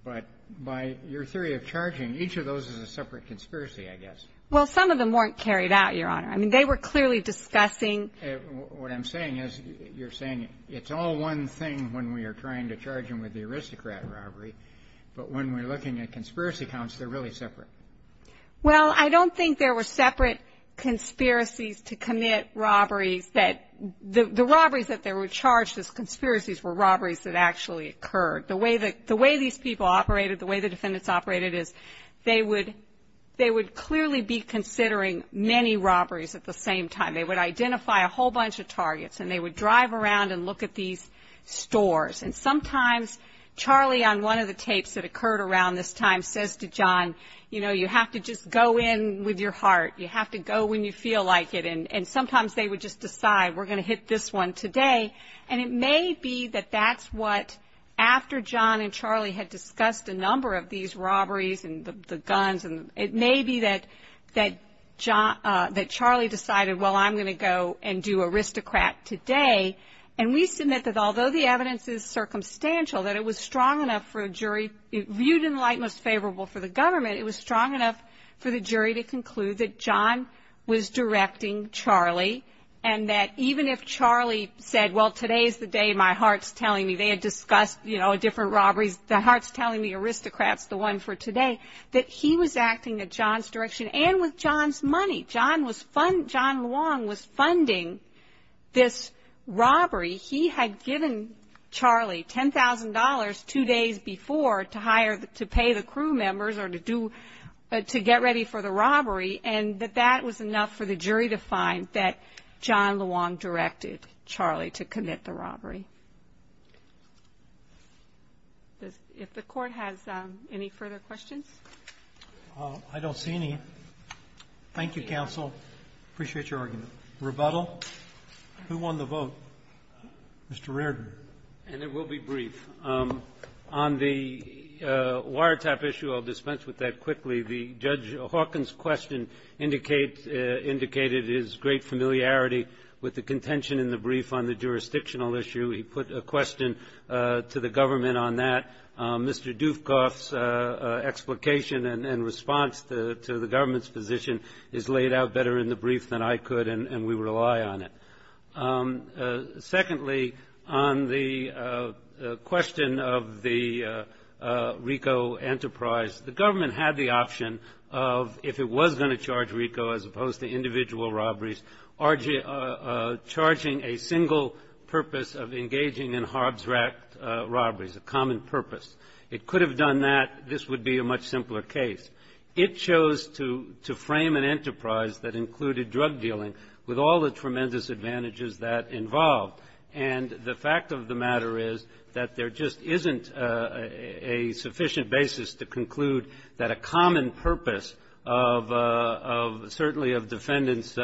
But by your theory of charging, each of those is a separate conspiracy, I guess. Well, some of them weren't carried out, Your Honor. I mean, they were clearly discussing. What I'm saying is you're saying it's all one thing when we are trying to charge him for the aristocrat robbery, but when we're looking at conspiracy counts, they're really separate. Well, I don't think there were separate conspiracies to commit robberies. The robberies that they were charged as conspiracies were robberies that actually occurred. The way these people operated, the way the defendants operated, is they would clearly be considering many robberies at the same time. They would identify a whole bunch of targets, and they would drive around and look at these stores. And sometimes Charlie on one of the tapes that occurred around this time says to John, you know, you have to just go in with your heart. You have to go when you feel like it. And sometimes they would just decide, we're going to hit this one today. And it may be that that's what, after John and Charlie had discussed a number of these robberies and the guns, it may be that Charlie decided, well, I'm going to go and do aristocrat today. And we submit that although the evidence is circumstantial, that it was strong enough for a jury, viewed in light that's favorable for the government, it was strong enough for the jury to conclude that John was directing Charlie, and that even if Charlie said, well, today's the day, my heart's telling me, they had discussed, you know, a different robbery, the heart's telling me aristocrat's the one for today, that he was acting in John's direction and with John's money. John Luong was funding this robbery. He had given Charlie $10,000 two days before to pay the crew members or to get ready for the robbery, and that that was enough for the jury to find that John Luong directed Charlie to commit the robbery. If the court has any further questions. Well, I don't see any. Thank you, counsel. Appreciate your argument. Rebuttal? Who won the vote? Mr. Reardon. And it will be brief. On the wiretap issue, I'll dispense with that quickly. Judge Hawkins' question indicated his great familiarity with the contention in the brief on the jurisdictional issue. He put a question to the government on that. Mr. Dufkoff's explication and response to the government's position is laid out better in the brief than I could, and we rely on it. Secondly, on the question of the RICO enterprise, the government had the option of, if it was going to charge RICO as opposed to individual robberies, charging a single purpose of engaging in harbs racked robberies, a common purpose. It could have done that. This would be a much simpler case. It chose to frame an enterprise that included drug dealing with all the tremendous advantages that involved, and the fact of the matter is that there just isn't a sufficient basis to conclude that a common purpose of, certainly of defendants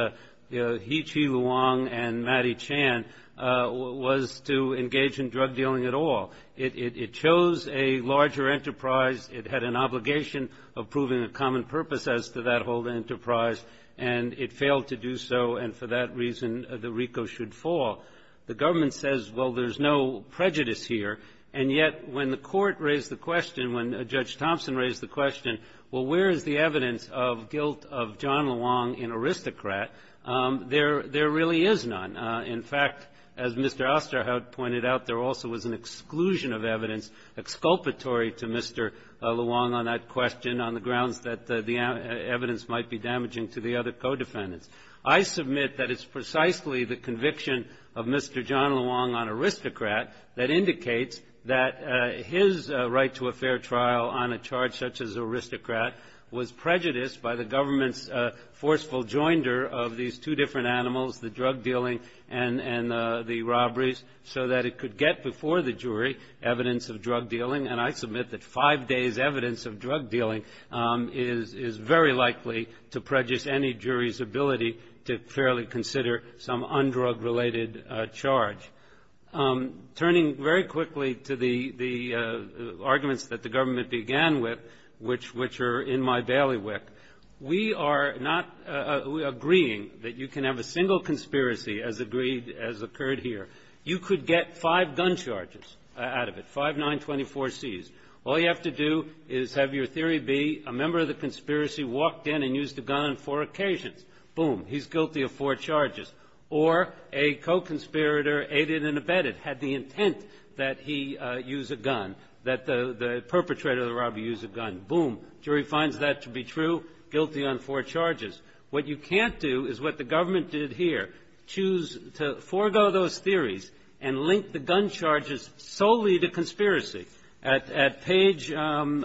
Heechi Luong and Mattie Chan was to engage in drug dealing at all. It chose a larger enterprise. It had an obligation of proving a common purpose as to that whole enterprise, and it failed to do so, and for that reason the RICO should fall. The government says, well, there's no prejudice here, and yet when the court raised the question, when Judge Thompson raised the question, well, where is the evidence of guilt of John Luong in aristocrat, there really is none. In fact, as Mr. Osterhout pointed out, there also was an exclusion of evidence, exculpatory to Mr. Luong on that question on the grounds that the evidence might be damaging to the other co-defendants. I submit that it's precisely the conviction of Mr. John Luong on aristocrat that indicates that his right to a fair trial on a charge such as aristocrat was prejudiced by the government's forceful joinder of these two different animals, the drug dealing and the robberies, so that it could get before the jury evidence of drug dealing, and I submit that five days' evidence of drug dealing is very likely to prejudice any jury's ability to fairly consider some undrug-related charge. Turning very quickly to the arguments that the government began with, which are in my bailiwick, we are not agreeing that you can have a single conspiracy as agreed, as occurred here. You could get five gun charges out of it, five 924Cs. All you have to do is have your theory be a member of the conspiracy walked in and used a gun on four occasions. Boom, he's guilty of four charges. Or a co-conspirator, aided and abetted, had the intent that he use a gun, that the perpetrator of the robbery use a gun. Boom, jury finds that to be true, guilty on four charges. What you can't do is what the government did here, choose to forego those theories and link the gun charges solely to conspiracy. At Page, in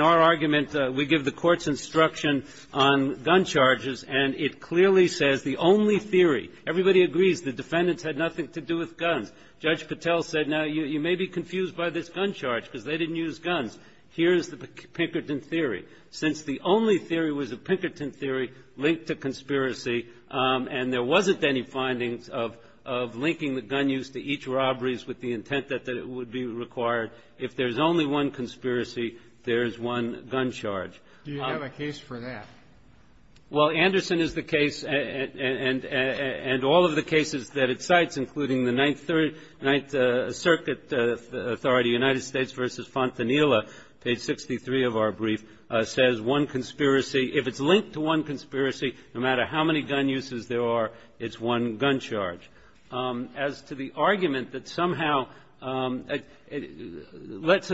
our argument, we give the court's instruction on gun charges, and it clearly says the only theory. Everybody agrees the defendants had nothing to do with guns. Judge Patel said, now, you may be confused by this gun charge, because they didn't use guns. Here is the Pinkerton theory. Since the only theory was the Pinkerton theory linked to conspiracy, and there wasn't any findings of linking the gun use to each robberies with the intent that it would be required, if there's only one conspiracy, there's one gun charge. Do you have a case for that? Well, Anderson is the case, and all of the cases that it cites, including the Ninth Circuit Authority, United States v. Fontanilla, Page 63 of our brief, says one conspiracy, if it's linked to one conspiracy, no matter how many gun uses there are, it's one gun charge. As to the argument that somehow, let's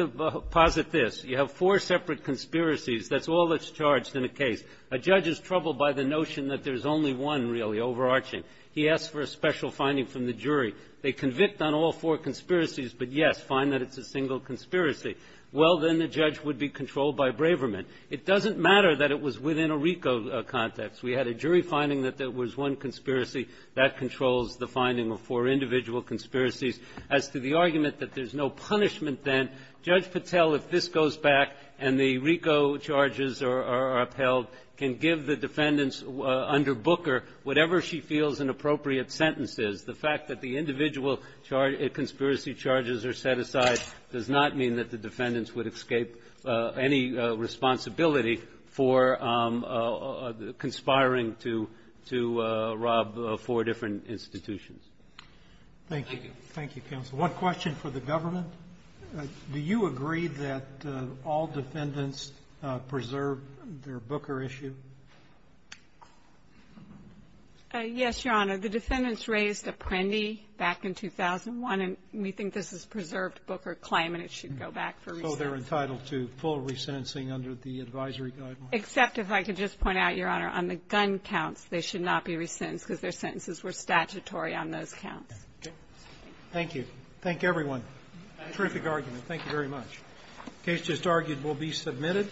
posit this. You have four separate conspiracies. That's all that's charged in a case. A judge is troubled by the notion that there's only one, really, overarching. He asks for a special finding from the jury. They convict on all four conspiracies, but, yes, find that it's a single conspiracy. Well, then the judge would be controlled by Braverman. It doesn't matter that it was within a RICO context. We had a jury finding that there was one conspiracy. That controls the finding of four individual conspiracies. As to the argument that there's no punishment then, Judge Patel, if this goes back and the RICO charges are upheld, can give the defendants under Booker whatever she feels an appropriate sentence is. The fact that the individual conspiracy charges are set aside does not mean that the defendants would escape any responsibility for conspiring to rob four different institutions. Thank you. Thank you, Counsel. One question for the government. Do you agree that all defendants preserve their Booker issue? Yes, Your Honor. The defendants raised Apprendi back in 2001, and we think this is preserved Booker climate. It should go back to RICO. So they're entitled to full resentencing under the advisory guideline? Except if I could just point out, Your Honor, on the gun counts, they should not be resentenced because their sentences were statutory on those counts. Okay. Thank you. Thank everyone. Terrific argument. Thank you very much. The case just argued will be submitted.